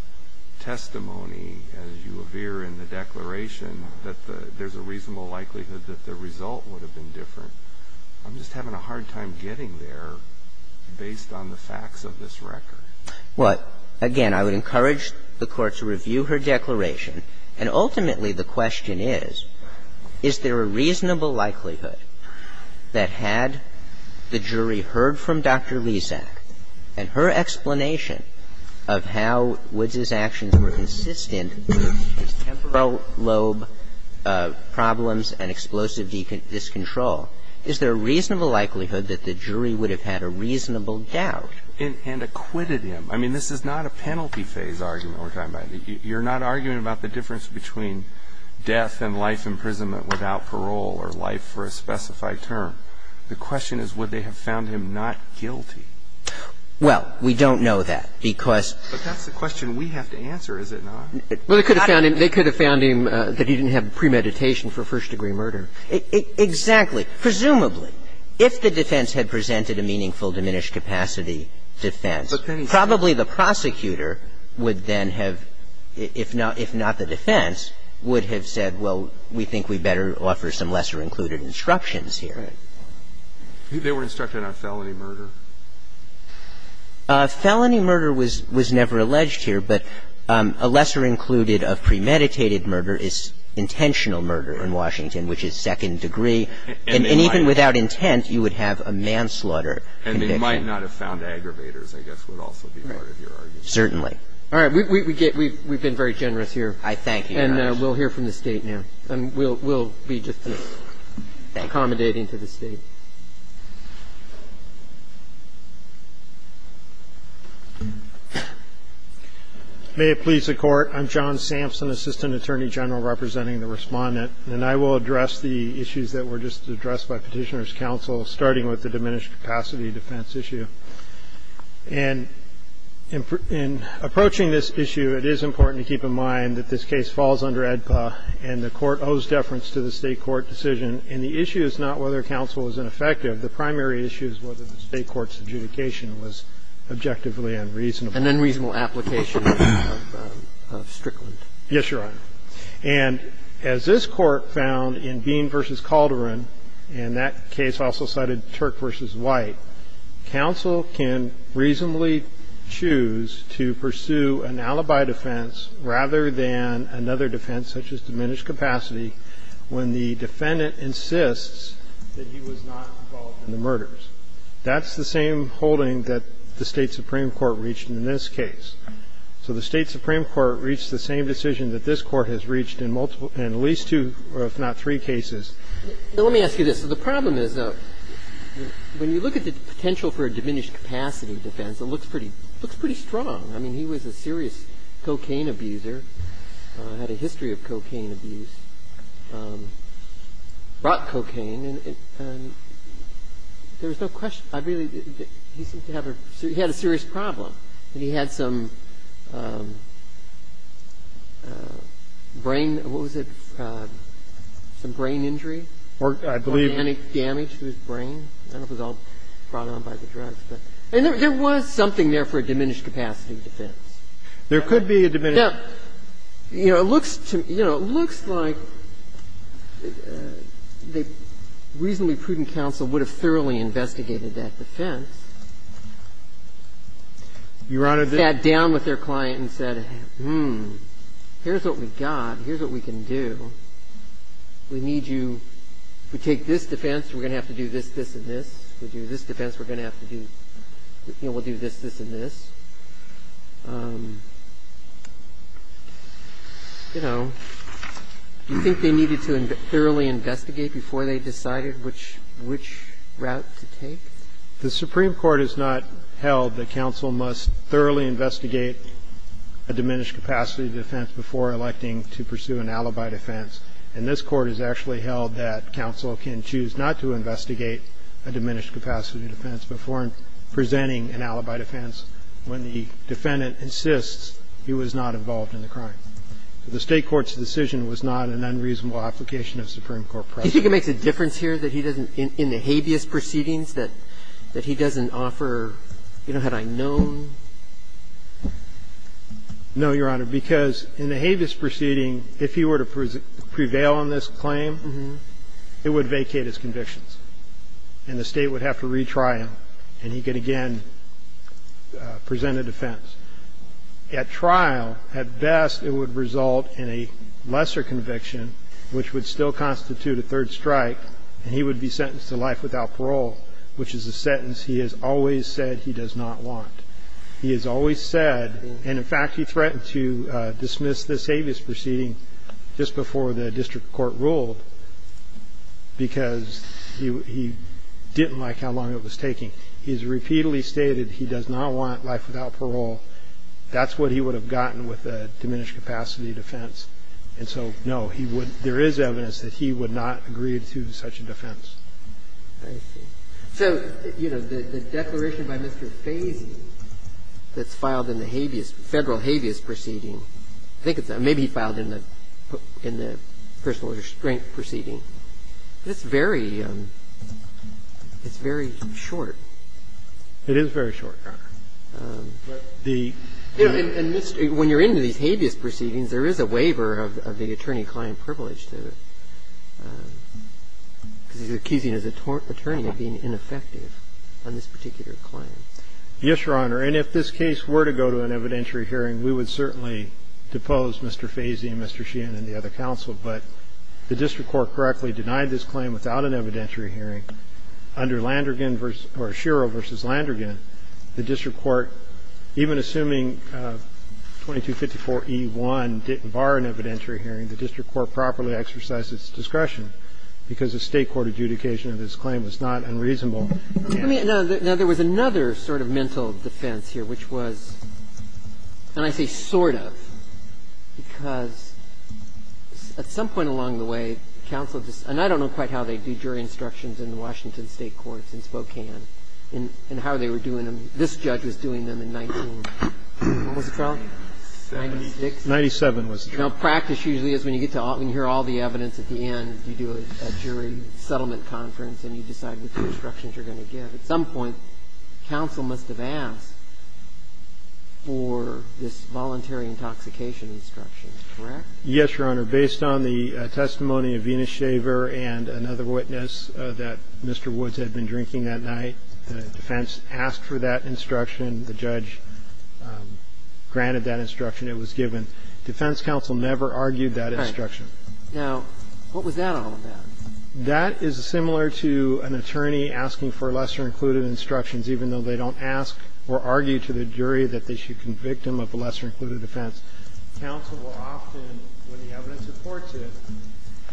testimony, as you appear in the declaration, that there's a reasonable likelihood that the result would have been different. I'm just having a hard time getting there based on the facts of this record. Well, again, I would encourage the Court to review her declaration. And ultimately the question is, is there a reasonable likelihood that had the jury heard from Dr. Lezak and her explanation of how Woods' actions were consistent with temporal lobe problems and explosive discontrol, is there a reasonable likelihood that the jury would have had a reasonable doubt? And acquitted him. I mean, this is not a penalty phase argument we're talking about. You're not arguing about the difference between death and life imprisonment without parole or life for a specified term. The question is, would they have found him not guilty? Well, we don't know that because... But that's the question we have to answer, is it not? Well, they could have found him that he didn't have premeditation for first-degree murder. Exactly. Presumably. If the defense had presented a meaningful diminished capacity defense, probably the prosecutor would then have, if not the defense, would have said, well, we think we better offer some lesser-included instructions here. Right. They were instructed on felony murder? Felony murder was never alleged here, but a lesser-included of premeditated murder is intentional murder in Washington, which is second degree. And even without intent, you would have a manslaughter conviction. And they might not have found aggravators, I guess, would also be part of your argument. Certainly. All right. We've been very generous here. I thank you. And we'll hear from the State now. And we'll be just accommodating to the State. May it please the Court. I'm John Sampson, Assistant Attorney General representing the Respondent, and I will address the issues that were just addressed by Petitioner's counsel, starting with the diminished capacity defense issue. And in approaching this issue, it is important to keep in mind that this case falls under ADPA, and the Court owes deference to the State court decision. And the issue is not whether counsel was ineffective. The primary issue is whether the State court's adjudication was objectively unreasonable. An unreasonable application of strickly. Yes, Your Honor. And as this Court found in Bean v. Calderon, and that case also cited Turk v. White, counsel can reasonably choose to pursue an alibi defense rather than another defense, such as diminished capacity, when the defendant insists that he was not involved in the murders. That's the same holding that the State Supreme Court reached in this case. So the State Supreme Court reached the same decision that this Court has reached in at least two, if not three, cases. Now, let me ask you this. The problem is, when you look at the potential for a diminished capacity defense, it looks pretty strong. I mean, he was a serious cocaine abuser, had a history of cocaine abuse, brought cocaine, and there's no question. He had a serious problem. He had some brain, what was it, some brain injury. I believe. Organic damage to his brain. I don't know if it was all brought on by the drugs. There was something there for a diminished capacity defense. There could be a diminished. Now, you know, it looks like the reasonably prudent counsel would have thoroughly investigated that defense. You wanted to? Sat down with their client and said, hmm, here's what we've got. Here's what we can do. We need you to take this defense. We're going to have to do this, this, and this. We'll do this defense. We're going to have to do this, this, and this. You know, you think they needed to thoroughly investigate before they decided which route to take? The Supreme Court has not held that counsel must thoroughly investigate a diminished capacity defense before electing to pursue an alibi defense. And this Court has actually held that counsel can choose not to investigate a diminished capacity defense before presenting an alibi defense when the defendant insists he was not involved in the crime. The State Court's decision was not an unreasonable application of Supreme Court precedent. Do you think it makes a difference here that he doesn't, in the habeas proceedings, that he doesn't offer, you know, had I known? No, Your Honor, because in the habeas proceeding, if he were to prevail on this claim, it would vacate his convictions. And the State would have to retry him, and he could again present a defense. At trial, at best, it would result in a lesser conviction, which would still constitute a third strike, and he would be sentenced to life without parole, which is a sentence he has always said he does not want. He has always said, and in fact he threatened to dismiss this habeas proceeding just before the district court ruled because he didn't like how long it was taking. He has repeatedly stated he does not want life without parole. That's what he would have gotten with a diminished capacity defense. And so, no, there is evidence that he would not agree to such a defense. I see. So, you know, the declaration by Mr. Stasi that's filed in the habeas, Federal habeas proceeding, I think it's maybe filed in the personal restraint proceeding. It's very short. It is very short, Your Honor. When you're in the habeas proceedings, there is a waiver of the attorney-client privilege that you're keeping the attorney being ineffective on this particular claim. Yes, Your Honor. And if this case were to go to an evidentiary hearing, we would certainly depose Mr. Fazi and Mr. Sheehan and the other counsel. But the district court correctly denied this claim without an evidentiary hearing. Under Landrigan versus — or Sherrill versus Landrigan, the district court, even assuming 2254E1 didn't bar an evidentiary hearing, the district court properly exercised its discretion because the State court adjudication of this claim is not unreasonable. Now, there was another sort of mental defense here, which was, and I say sort of, because at some point along the way, counsel just — and I don't know quite how they do jury instructions in the Washington State courts in Spokane and how they were doing them. This judge was doing them in 19 — what was the trial? Ninety-six. Ninety-seven was the trial. Now, practice usually is when you get to — and hear all the evidence at the end, you do a jury settlement conference and you decide what sort of instructions you're going to give. At some point, counsel must have asked for this voluntary intoxication instructions, correct? Yes, Your Honor. Based on the testimony of Venus Shaver and another witness that Mr. Woods had been drinking that night, the defense asked for that instruction. The judge granted that instruction. It was given. Defense counsel never argued that instruction. All right. Now, what was that all about? That is similar to an attorney asking for lesser-included instructions, even though they don't ask or argue to the jury that they should convict them of the lesser-included offense. Counsel will often, when the evidence reports it,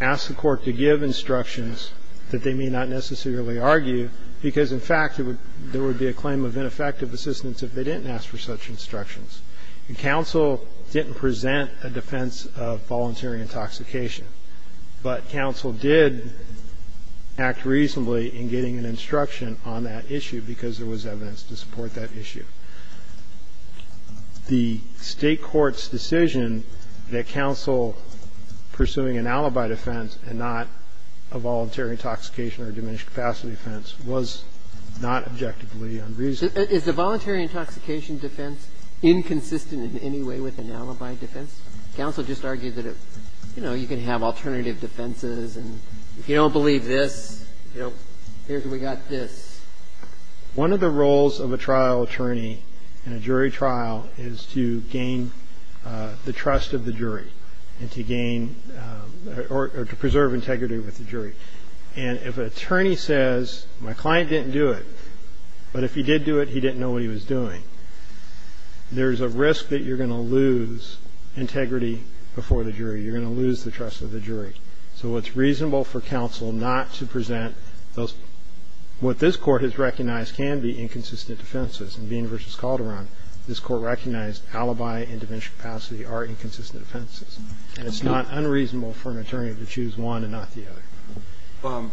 ask the court to give instructions that they may not necessarily argue because, in fact, there would be a claim of ineffective assistance if they didn't ask for such instructions. And counsel didn't present a defense of voluntary intoxication. But counsel did act reasonably in getting an instruction on that issue because there was evidence to support that issue. The state court's decision that counsel pursuing an alibi defense and not a voluntary intoxication or diminished capacity defense was not objectively unreasonable. Is the voluntary intoxication defense inconsistent in any way with an alibi defense? Counsel just argued that, you know, you can have alternative defenses. And if you don't believe this, you know, here's what we got this. One of the roles of a trial attorney in a jury trial is to gain the trust of the jury and to gain or to preserve integrity with the jury. And if an attorney says, my client didn't do it, but if he did do it, he didn't know what he was doing, there's a risk that you're going to lose integrity before the jury. You're going to lose the trust of the jury. So it's reasonable for counsel not to present those. What this court has recognized can be inconsistent defenses. In Vena v. Calderon, this court recognized alibi and diminished capacity are inconsistent defenses. And it's not unreasonable for an attorney to choose one and not the other.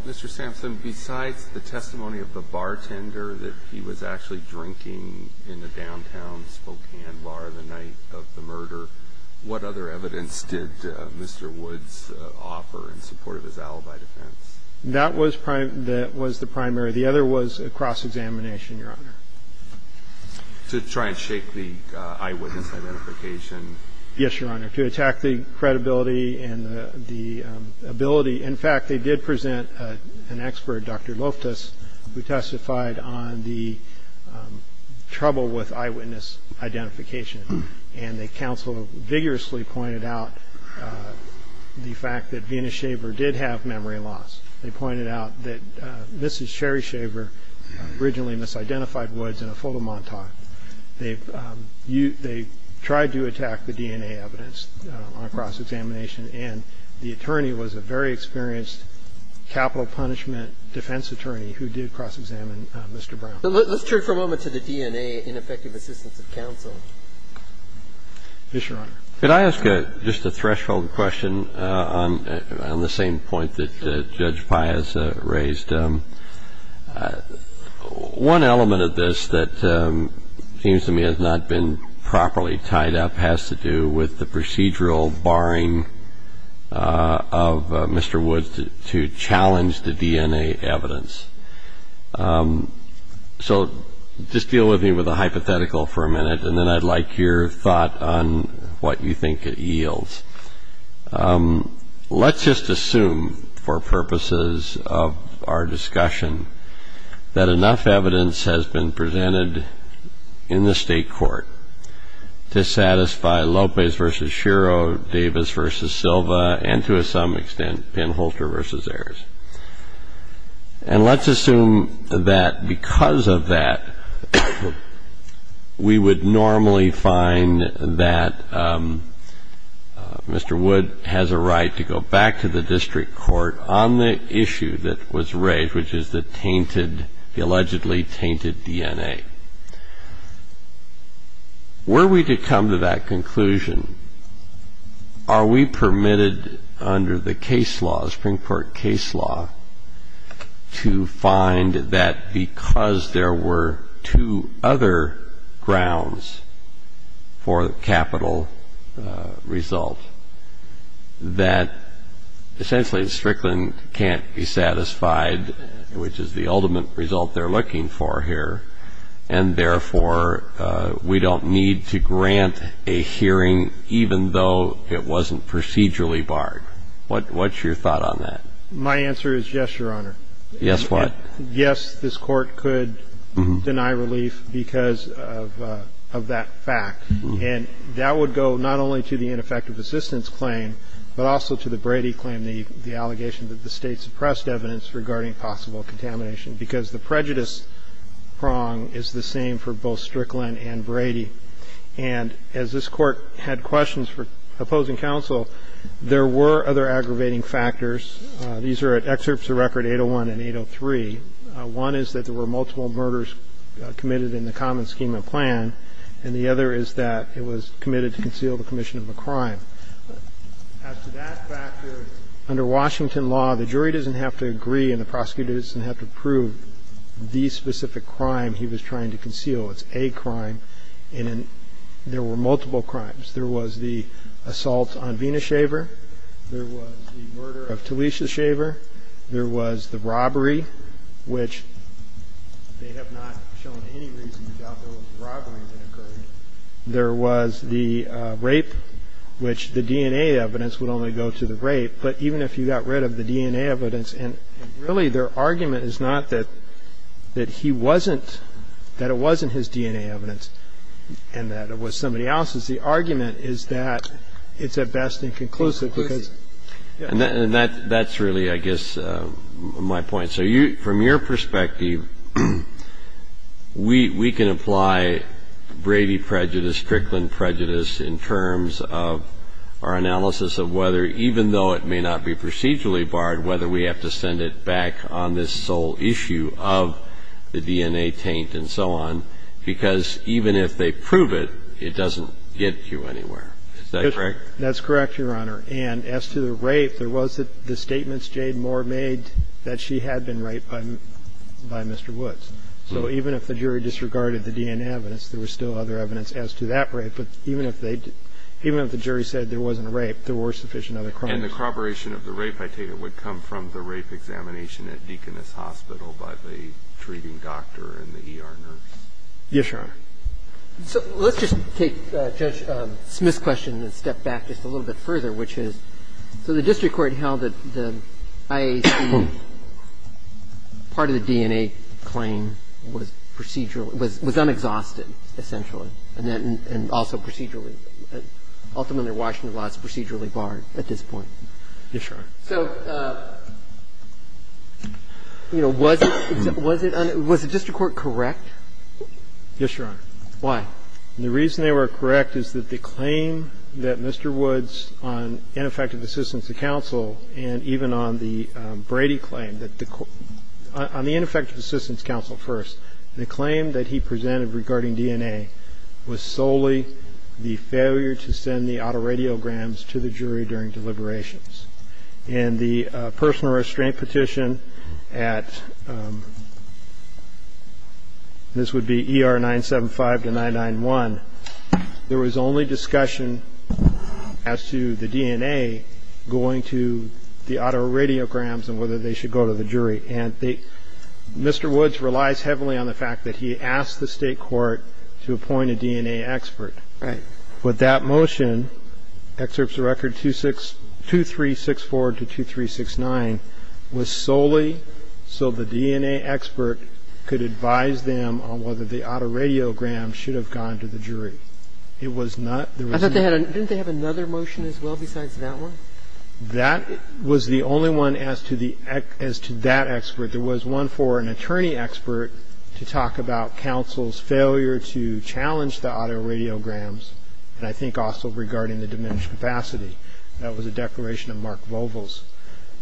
Mr. Sampson, besides the testimony of the bartender that he was actually drinking in the downtown Spokane bar the night of the murder, what other evidence did Mr. Woods offer in support of his alibi defense? That was the primary. The other was a cross-examination, Your Honor. To try and shake the eyewitness identification. Yes, Your Honor. To attack the credibility and the ability. In fact, they did present an expert, Dr. Loftus, who testified on the trouble with eyewitness identification. And the counsel vigorously pointed out the fact that Vena Shaver did have memory loss. They pointed out that Mrs. Sherry Shaver originally misidentified Woods in a fuller montage. They tried to attack the DNA evidence on cross-examination. And the attorney was a very experienced capital punishment defense attorney who did cross-examine Mr. Brown. Let's turn for a moment to the DNA ineffective assistance of counsel. Yes, Your Honor. Could I ask just a threshold question on the same point that Judge Pai has raised? One element of this that seems to me has not been properly tied up has to do with the procedural barring of Mr. Woods to challenge the DNA evidence. So just deal with me with a hypothetical for a minute, and then I'd like your thought on what you think it yields. Let's just assume, for purposes of our discussion, that enough evidence has been presented in the state court to satisfy Lopez v. Shiro, Davis v. Silva, and to some extent Penholter v. Ayers. And let's assume that because of that, we would normally find that Mr. Woods has a right to go back to the district court on the issue that was raised, which is the allegedly tainted DNA. Were we to come to that conclusion, are we permitted under the case law, the Supreme Court case law, to find that because there were two other grounds for capital result, that essentially Strickland can't be satisfied, which is the ultimate result they're looking for here, and therefore we don't need to grant a hearing even though it wasn't procedurally barred? What's your thought on that? My answer is yes, Your Honor. Yes, what? Yes, this court could deny relief because of that fact, and that would go not only to the ineffective assistance claim, but also to the Brady claim, the allegation that the state suppressed evidence regarding possible contamination, because the prejudice prong is the same for both Strickland and Brady. And as this court had questions for opposing counsel, there were other aggravating factors. These are excerpts of record 801 and 803. One is that there were multiple murders committed in the common scheme of plan, and the other is that it was committed to conceal the commission of a crime. As to that factor, under Washington law, the jury doesn't have to agree and the prosecutor doesn't have to prove the specific crime he was trying to conceal. It's a crime, and there were multiple crimes. There was the assault on Vena Shaver. There was the murder of Talisha Shaver. There was the robbery, which they have not shown any reason to doubt those robberies occurred. There was the rape, which the DNA evidence would only go to the rape, but even if you got rid of the DNA evidence, and really their argument is not that he wasn't, that it wasn't his DNA evidence and that it was somebody else's. The argument is that it's at best inconclusive. And that's really, I guess, my point. So from your perspective, we can apply Brady prejudice, Strickland prejudice, in terms of our analysis of whether, even though it may not be procedurally barred, whether we have to send it back on this sole issue of the DNA taint and so on, because even if they prove it, it doesn't get you anywhere. Is that correct? That's correct, Your Honor. And as to the rape, there was the statements Jade Moore made that she had been raped by Mr. Woods. So even if the jury disregarded the DNA evidence, there was still other evidence as to that rape. But even if the jury said there wasn't a rape, there were sufficient other crimes. And the corroboration of the rape, I take it, would come from the rape examination at Deaconess Hospital by the treating doctor and the ER nurse. Yes, Your Honor. So let's just take Judge Smith's question and step back just a little bit further, which is, so the district court held that the IAC's part of the DNA claim was procedural, was unexhausted, essentially, and also procedurally. Ultimately, Washington's law is procedurally barred at this point. Yes, Your Honor. So, you know, was it on the district court correct? Yes, Your Honor. Why? The reason they were correct is that the claim that Mr. Woods on ineffective assistance to counsel and even on the Brady claim, on the ineffective assistance counsel first, the claim that he presented regarding DNA was solely the failure to send the autoradiograms to the jury during deliberations. And the personal restraint petition at, this would be ER 975 to 991, there was only discussion as to the DNA going to the autoradiograms and whether they should go to the jury. And Mr. Woods relies heavily on the fact that he asked the state court to appoint a DNA expert. Right. With that motion, excerpts of record 2364 to 2369, was solely so the DNA expert could advise them on whether the autoradiograms should have gone to the jury. It was not the reason. Didn't they have another motion as well besides that one? That was the only one as to that expert. There was one for an attorney expert to talk about counsel's failure to challenge the autoradiograms. And I think also regarding the diminished capacity. That was a declaration of Mark Vogel's.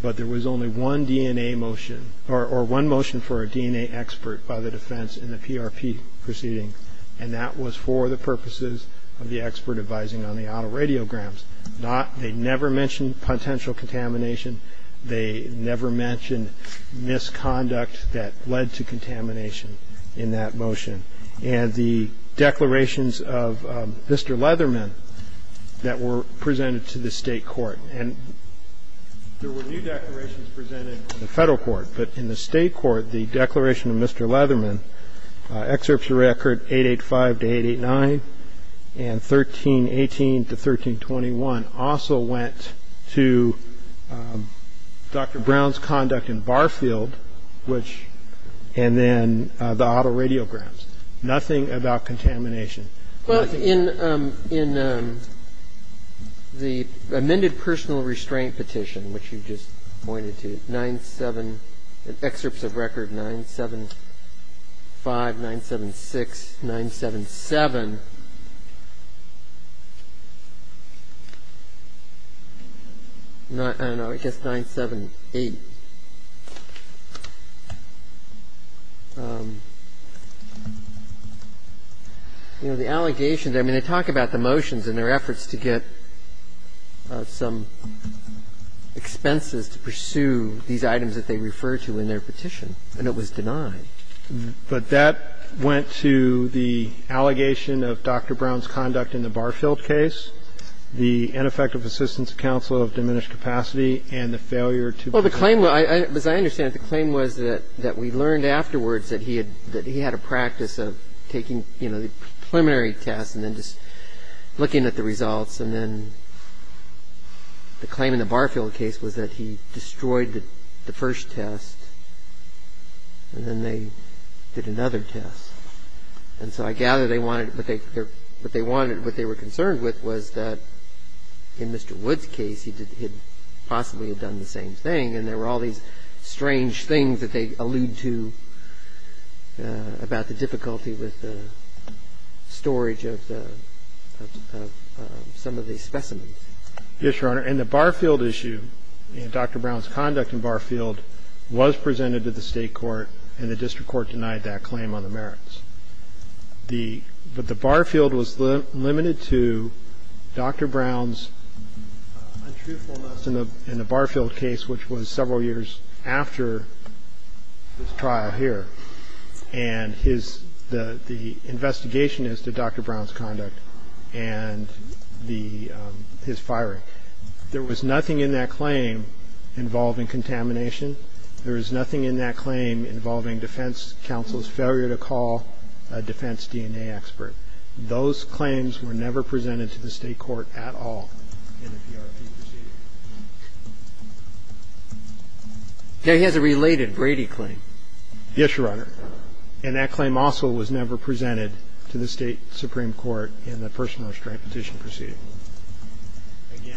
But there was only one DNA motion, or one motion for a DNA expert by the defense in the PRP proceeding. And that was for the purposes of the expert advising on the autoradiograms. They never mentioned potential contamination. They never mentioned misconduct that led to contamination in that motion. And the declarations of Mr. Leatherman that were presented to the state court. And there were new declarations presented in the federal court. But in the state court, the declaration of Mr. Leatherman, excerpts of record 885 to 889, and 1318 to 1321, also went to Dr. Brown's conduct in Barfield, and then the autoradiograms. Nothing about contamination. In the amended personal restraint petition, which you just pointed to, 975, 976, 977. I don't know, I guess 978. You know, the allegations, I mean, they talk about the motions and their efforts to get some expenses to pursue these items that they refer to in their petition. And it was denied. But that went to the allegation of Dr. Brown's conduct in the Barfield case, the ineffective assistance counsel of diminished capacity, and the failure to- Well, the claim, as I understand it, the claim was that we learned afterwards that he had a practice of taking, you know, preliminary tests and then just looking at the results. And then the claim in the Barfield case was that he destroyed the first test. And then they did another test. And so I gather what they were concerned with was that in Mr. Wood's case he had possibly done the same thing, and there were all these strange things that they allude to about the difficulty with the storage of some of these specimens. Yes, Your Honor. In the Barfield issue, Dr. Brown's conduct in Barfield was presented to the state court, and the district court denied that claim on the merits. But the Barfield was limited to Dr. Brown's untruthfulness in the Barfield case, which was several years after this trial here. And the investigation is to Dr. Brown's conduct and his firing. There was nothing in that claim involving contamination. There is nothing in that claim involving defense counsel's failure to call a defense DNA expert. Those claims were never presented to the state court at all in the PRP proceeding. He had a related Brady claim. Yes, Your Honor. And that claim also was never presented to the state supreme court in the personal restraint petition proceeding.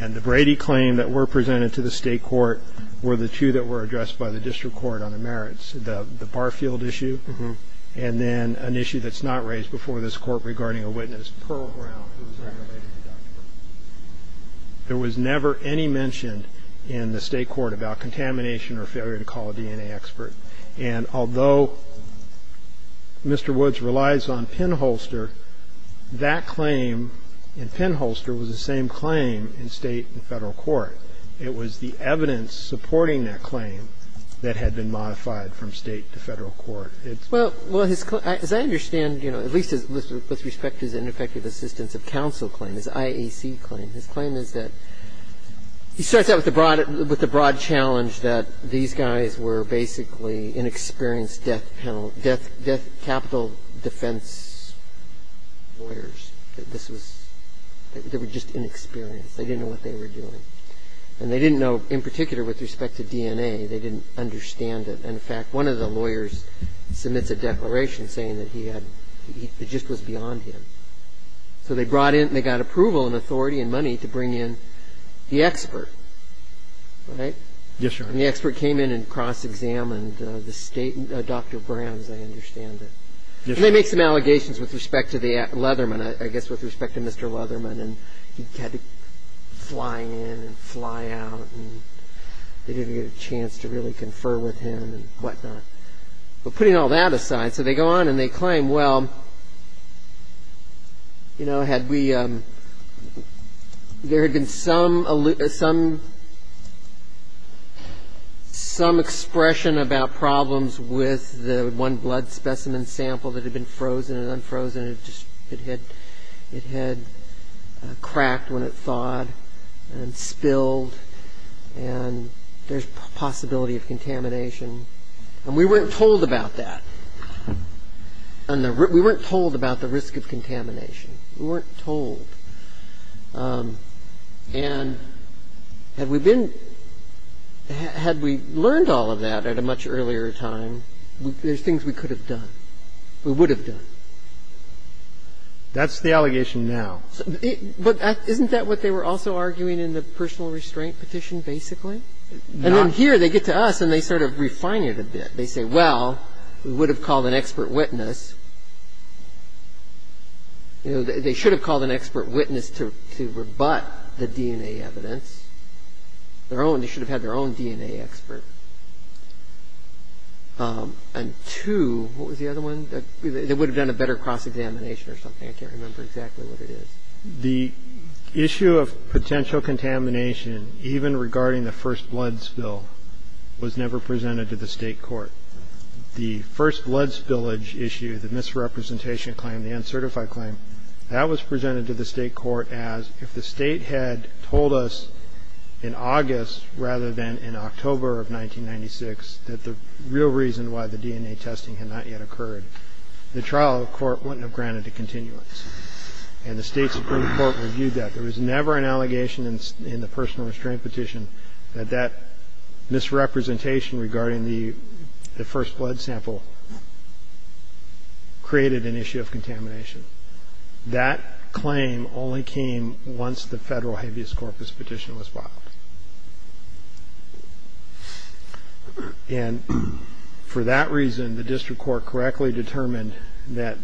And the Brady claim that were presented to the state court were the two that were addressed by the district court on the merits, the Barfield issue and then an issue that's not raised before this court regarding a witness. There was never any mention in the state court about contamination or failure to call a DNA expert. And although Mr. Woods relies on pinholster, that claim in pinholster was the same claim in state and federal court. It was the evidence supporting that claim that had been modified from state to federal court. Well, as I understand, you know, at least with respect to the ineffective assistance of counsel claims, IAC claims, his claim is that he starts out with the broad challenge that these guys were basically inexperienced death penalty, death capital defense lawyers. They were just inexperienced. They didn't know what they were doing. And they didn't know in particular with respect to DNA. They didn't understand it. And in fact, one of the lawyers submitted a declaration saying that he had, it just was beyond him. So they brought in, they got approval and authority and money to bring in the expert, right? Yes, sir. And the expert came in and cross-examined the state, Dr. Brown, as I understand it. And they made some allegations with respect to the Leatherman, I guess with respect to Mr. Leatherman. And he had to fly in and fly out and they didn't get a chance to really confer with him and whatnot. But putting all that aside, so they go on and they claim, well, you know, had we, there had been some expression about problems with the one blood specimen sample that had been frozen and unfrozen. It had cracked when it thawed and spilled and there's possibility of contamination. And we weren't told about that. We weren't told about the risk of contamination. We weren't told. And had we been, had we learned all of that at a much earlier time, there's things we could have done, we would have done. That's the allegation now. But isn't that what they were also arguing in the personal restraint petition basically? And then here they get to us and they sort of refine it a bit. They say, well, we would have called an expert witness. You know, they should have called an expert witness to rebut the DNA evidence. They should have had their own DNA expert. And two, what was the other one? It would have been a better cross-examination or something. I can't remember exactly what it is. The issue of potential contamination, even regarding the first blood spill, was never presented to the state court. The first blood spillage issue, the misrepresentation claim, the uncertified claim, that was presented to the state court as if the state had told us in August rather than in October of 1996 that the real reason why the DNA testing had not yet occurred, the trial court wouldn't have granted the continuance. And the state Supreme Court reviewed that. There was never an allegation in the personal restraint petition that that misrepresentation regarding the first blood sample created an issue of contamination. That claim only came once the federal habeas corpus petition was filed. And for that reason, the district court correctly determined that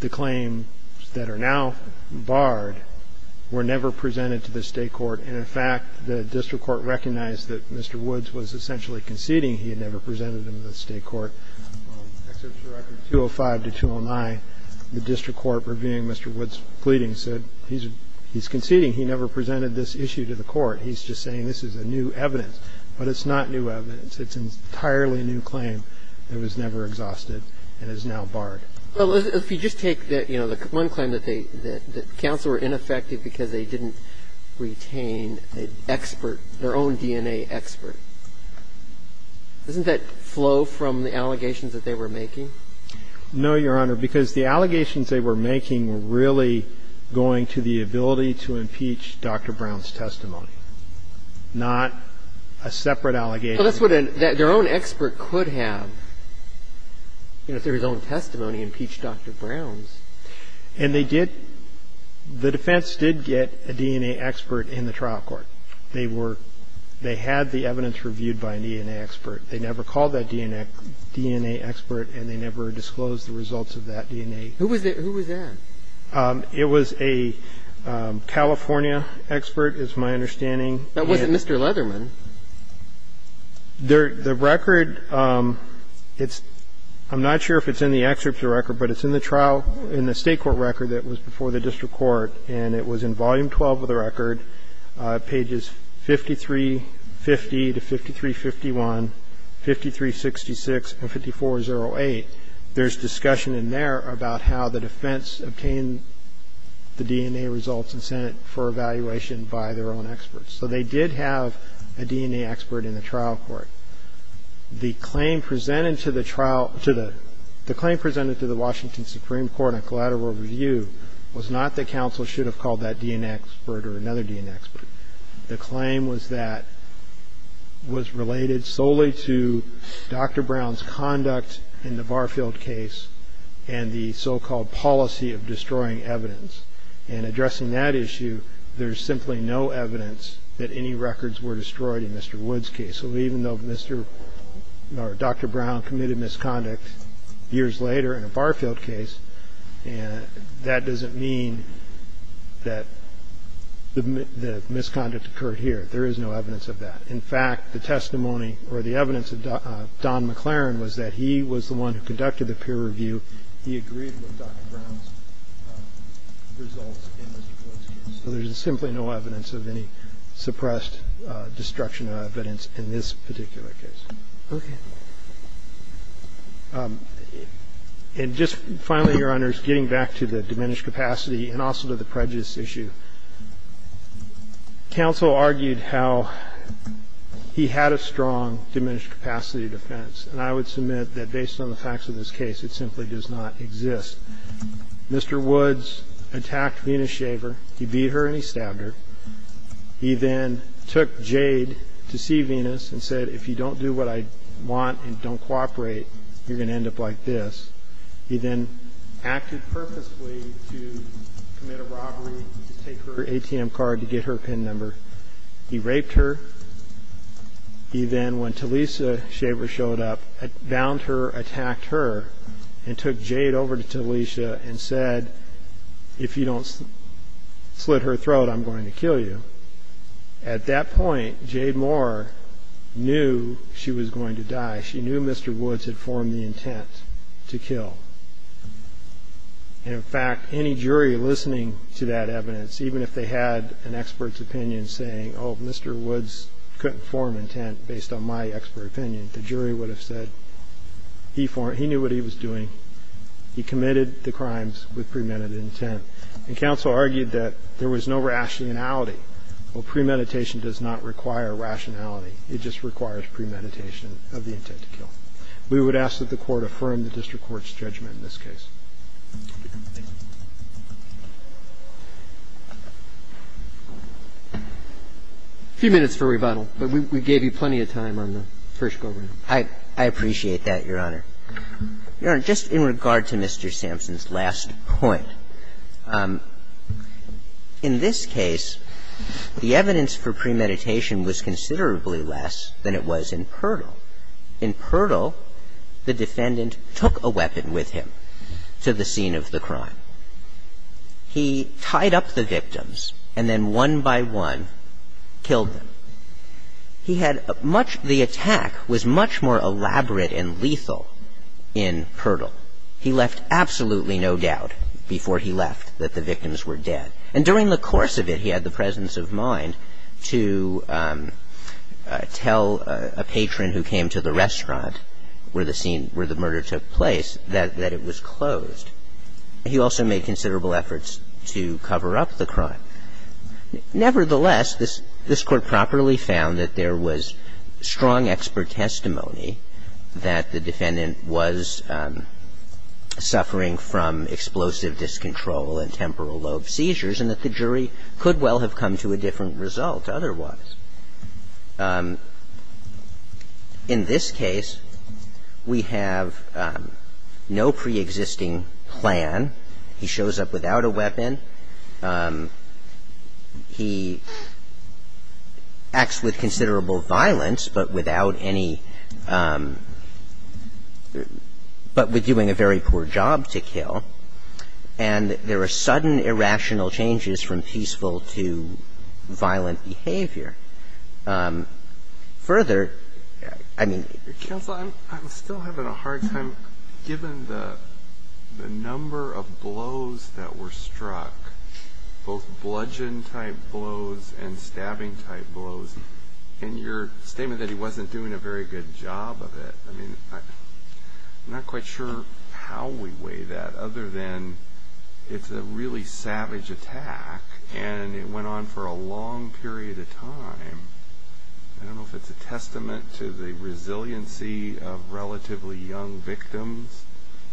the claims that are now barred were never presented to the state court. And, in fact, the district court recognized that Mr. Woods was essentially conceding he had never presented them to the state court. Excerpts from records 205 to 209, the district court reviewing Mr. Woods' pleadings said he's conceding he never presented this issue to the court. He's just saying this is a new evidence. But it's not new evidence. It's an entirely new claim that was never exhausted and is now barred. Well, if you just take, you know, the one claim that counsel were ineffective because they didn't retain an expert, their own DNA expert, doesn't that flow from the allegations that they were making? No, Your Honor, because the allegations they were making were really going to the ability to impeach Dr. Brown's testimony, not a separate allegation. So that's what their own expert could have if their own testimony impeached Dr. Brown's. And the defense did get a DNA expert in the trial court. They had the evidence reviewed by a DNA expert. They never called that DNA expert, and they never disclosed the results of that DNA. Who was that? It was a California expert, is my understanding. That wasn't Mr. Leatherman. The record, I'm not sure if it's in the excerpt of the record, but it's in the trial in the state court record that was before the district court, and it was in volume 12 of the record, pages 5350 to 5351, 5366 and 5408. There's discussion in there about how the defense obtained the DNA results and sent it for evaluation by their own experts. So they did have a DNA expert in the trial court. The claim presented to the Washington Supreme Court on collateral review was not that counsel should have called that DNA expert or another DNA expert. The claim was that was related solely to Dr. Brown's conduct in the Barfield case and the so-called policy of destroying evidence. And addressing that issue, there's simply no evidence that any records were destroyed in Mr. Wood's case. So even though Dr. Brown committed misconduct years later in a Barfield case, that doesn't mean that the misconduct occurred here. There is no evidence of that. In fact, the testimony or the evidence of Don McLaren was that he was the one who conducted the peer review. He agreed with Dr. Brown's results in Mr. Wood's case. So there's simply no evidence of any suppressed destruction of evidence in this particular case. Okay. And just finally, Your Honors, getting back to the diminished capacity and also to the prejudice issue. Counsel argued how he had a strong diminished capacity defense. And I would submit that based on the facts of this case, it simply does not exist. Mr. Woods attacked Venus Shaver. He beat her and he stabbed her. He then took Jade to see Venus and said, if you don't do what I want and don't cooperate, you're going to end up like this. He then acted purposely to commit a robbery, to take her ATM card, to get her PIN number. He raped her. He then, when Talisa Shaver showed up, bound her, attacked her, and took Jade over to Talisa and said, if you don't slit her throat, I'm going to kill you. At that point, Jade Moore knew she was going to die. She knew Mr. Woods had formed the intent to kill. And, in fact, any jury listening to that evidence, even if they had an expert's opinion saying, oh, Mr. Woods couldn't form intent based on my expert opinion, the jury would have said he knew what he was doing. He committed the crimes with premeditated intent. And counsel argued that there was no rationality. Well, premeditation does not require rationality. It just requires premeditation of the intent to kill. We would ask that the Court affirm the district court's judgment in this case. A few minutes for rebuttal, but we gave you plenty of time on the first building. I appreciate that, Your Honor. Your Honor, just in regard to Mr. Sampson's last point, in this case, the evidence for premeditation was considerably less than it was in PIRTL. In PIRTL, the defendant took a weapon with him to the scene of the crime. He tied up the victims and then one by one killed them. The attack was much more elaborate and lethal in PIRTL. He left absolutely no doubt before he left that the victims were dead. And during the course of it, he had the presence of mind to tell a patron who came to the restaurant where the murder took place that it was closed. He also made considerable efforts to cover up the crime. Nevertheless, this Court properly found that there was strong expert testimony that the defendant was suffering from explosive discontrol and temporal lobe seizures and that the jury could well have come to a different result otherwise. In this case, we have no preexisting plan. He shows up without a weapon. He acts with considerable violence, but without any – but with doing a very poor job to kill. And there are sudden irrational changes from peaceful to violent behavior. Further – I mean – Counsel, I'm still having a hard time given the number of blows that were struck, both bludgeon-type blows and stabbing-type blows, and your statement that he wasn't doing a very good job of it. I mean, I'm not quite sure how we weigh that other than it's a really savage attack, and it went on for a long period of time. I don't know if it's a testament to the resiliency of relatively young victims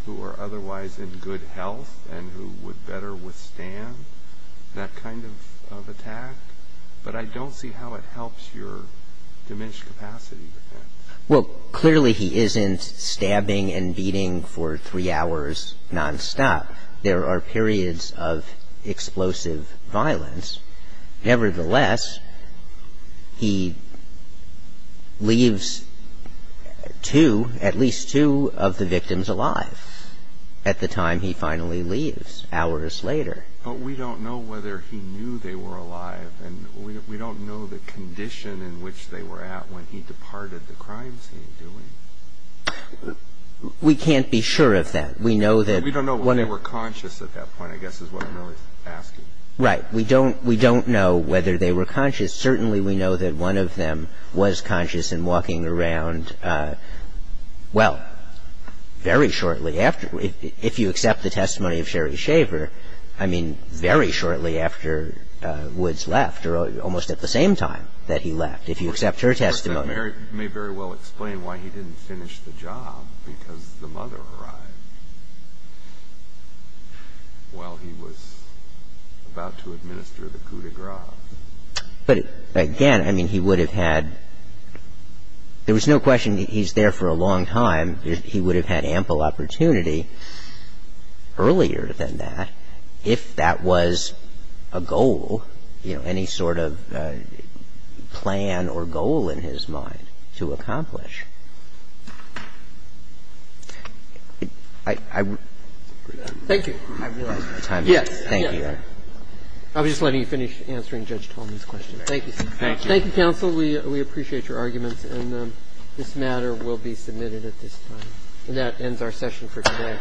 who are otherwise in good health and who would better withstand that kind of attack, but I don't see how it helps your diminished capacity. Well, clearly he isn't stabbing and beating for three hours nonstop. There are periods of explosive violence. Nevertheless, he leaves at least two of the victims alive at the time he finally leaves, hours later. But we don't know whether he knew they were alive, and we don't know the condition in which they were at when he departed the crime scene, do we? We can't be sure of that. We don't know whether they were conscious at that point, I guess is what I'm asking. Right. We don't know whether they were conscious. Certainly we know that one of them was conscious and walking around, well, very shortly after. If you accept the testimony of Sherry Shaver, I mean, very shortly after Woods left, or almost at the same time that he left, if you accept her testimony. You may very well explain why he didn't finish the job, because the mother arrived while he was about to administer the coup de grace. But, again, I mean, he would have had... There was no question he's there for a long time. He would have had ample opportunity earlier than that if that was a goal, any sort of plan or goal in his mind to accomplish. Thank you. Yes. Thank you. I'll just let him finish answering Judge Tolman's question. Thank you. Thank you, counsel. We appreciate your arguments, and this matter will be submitted at this time. And that ends our session for today.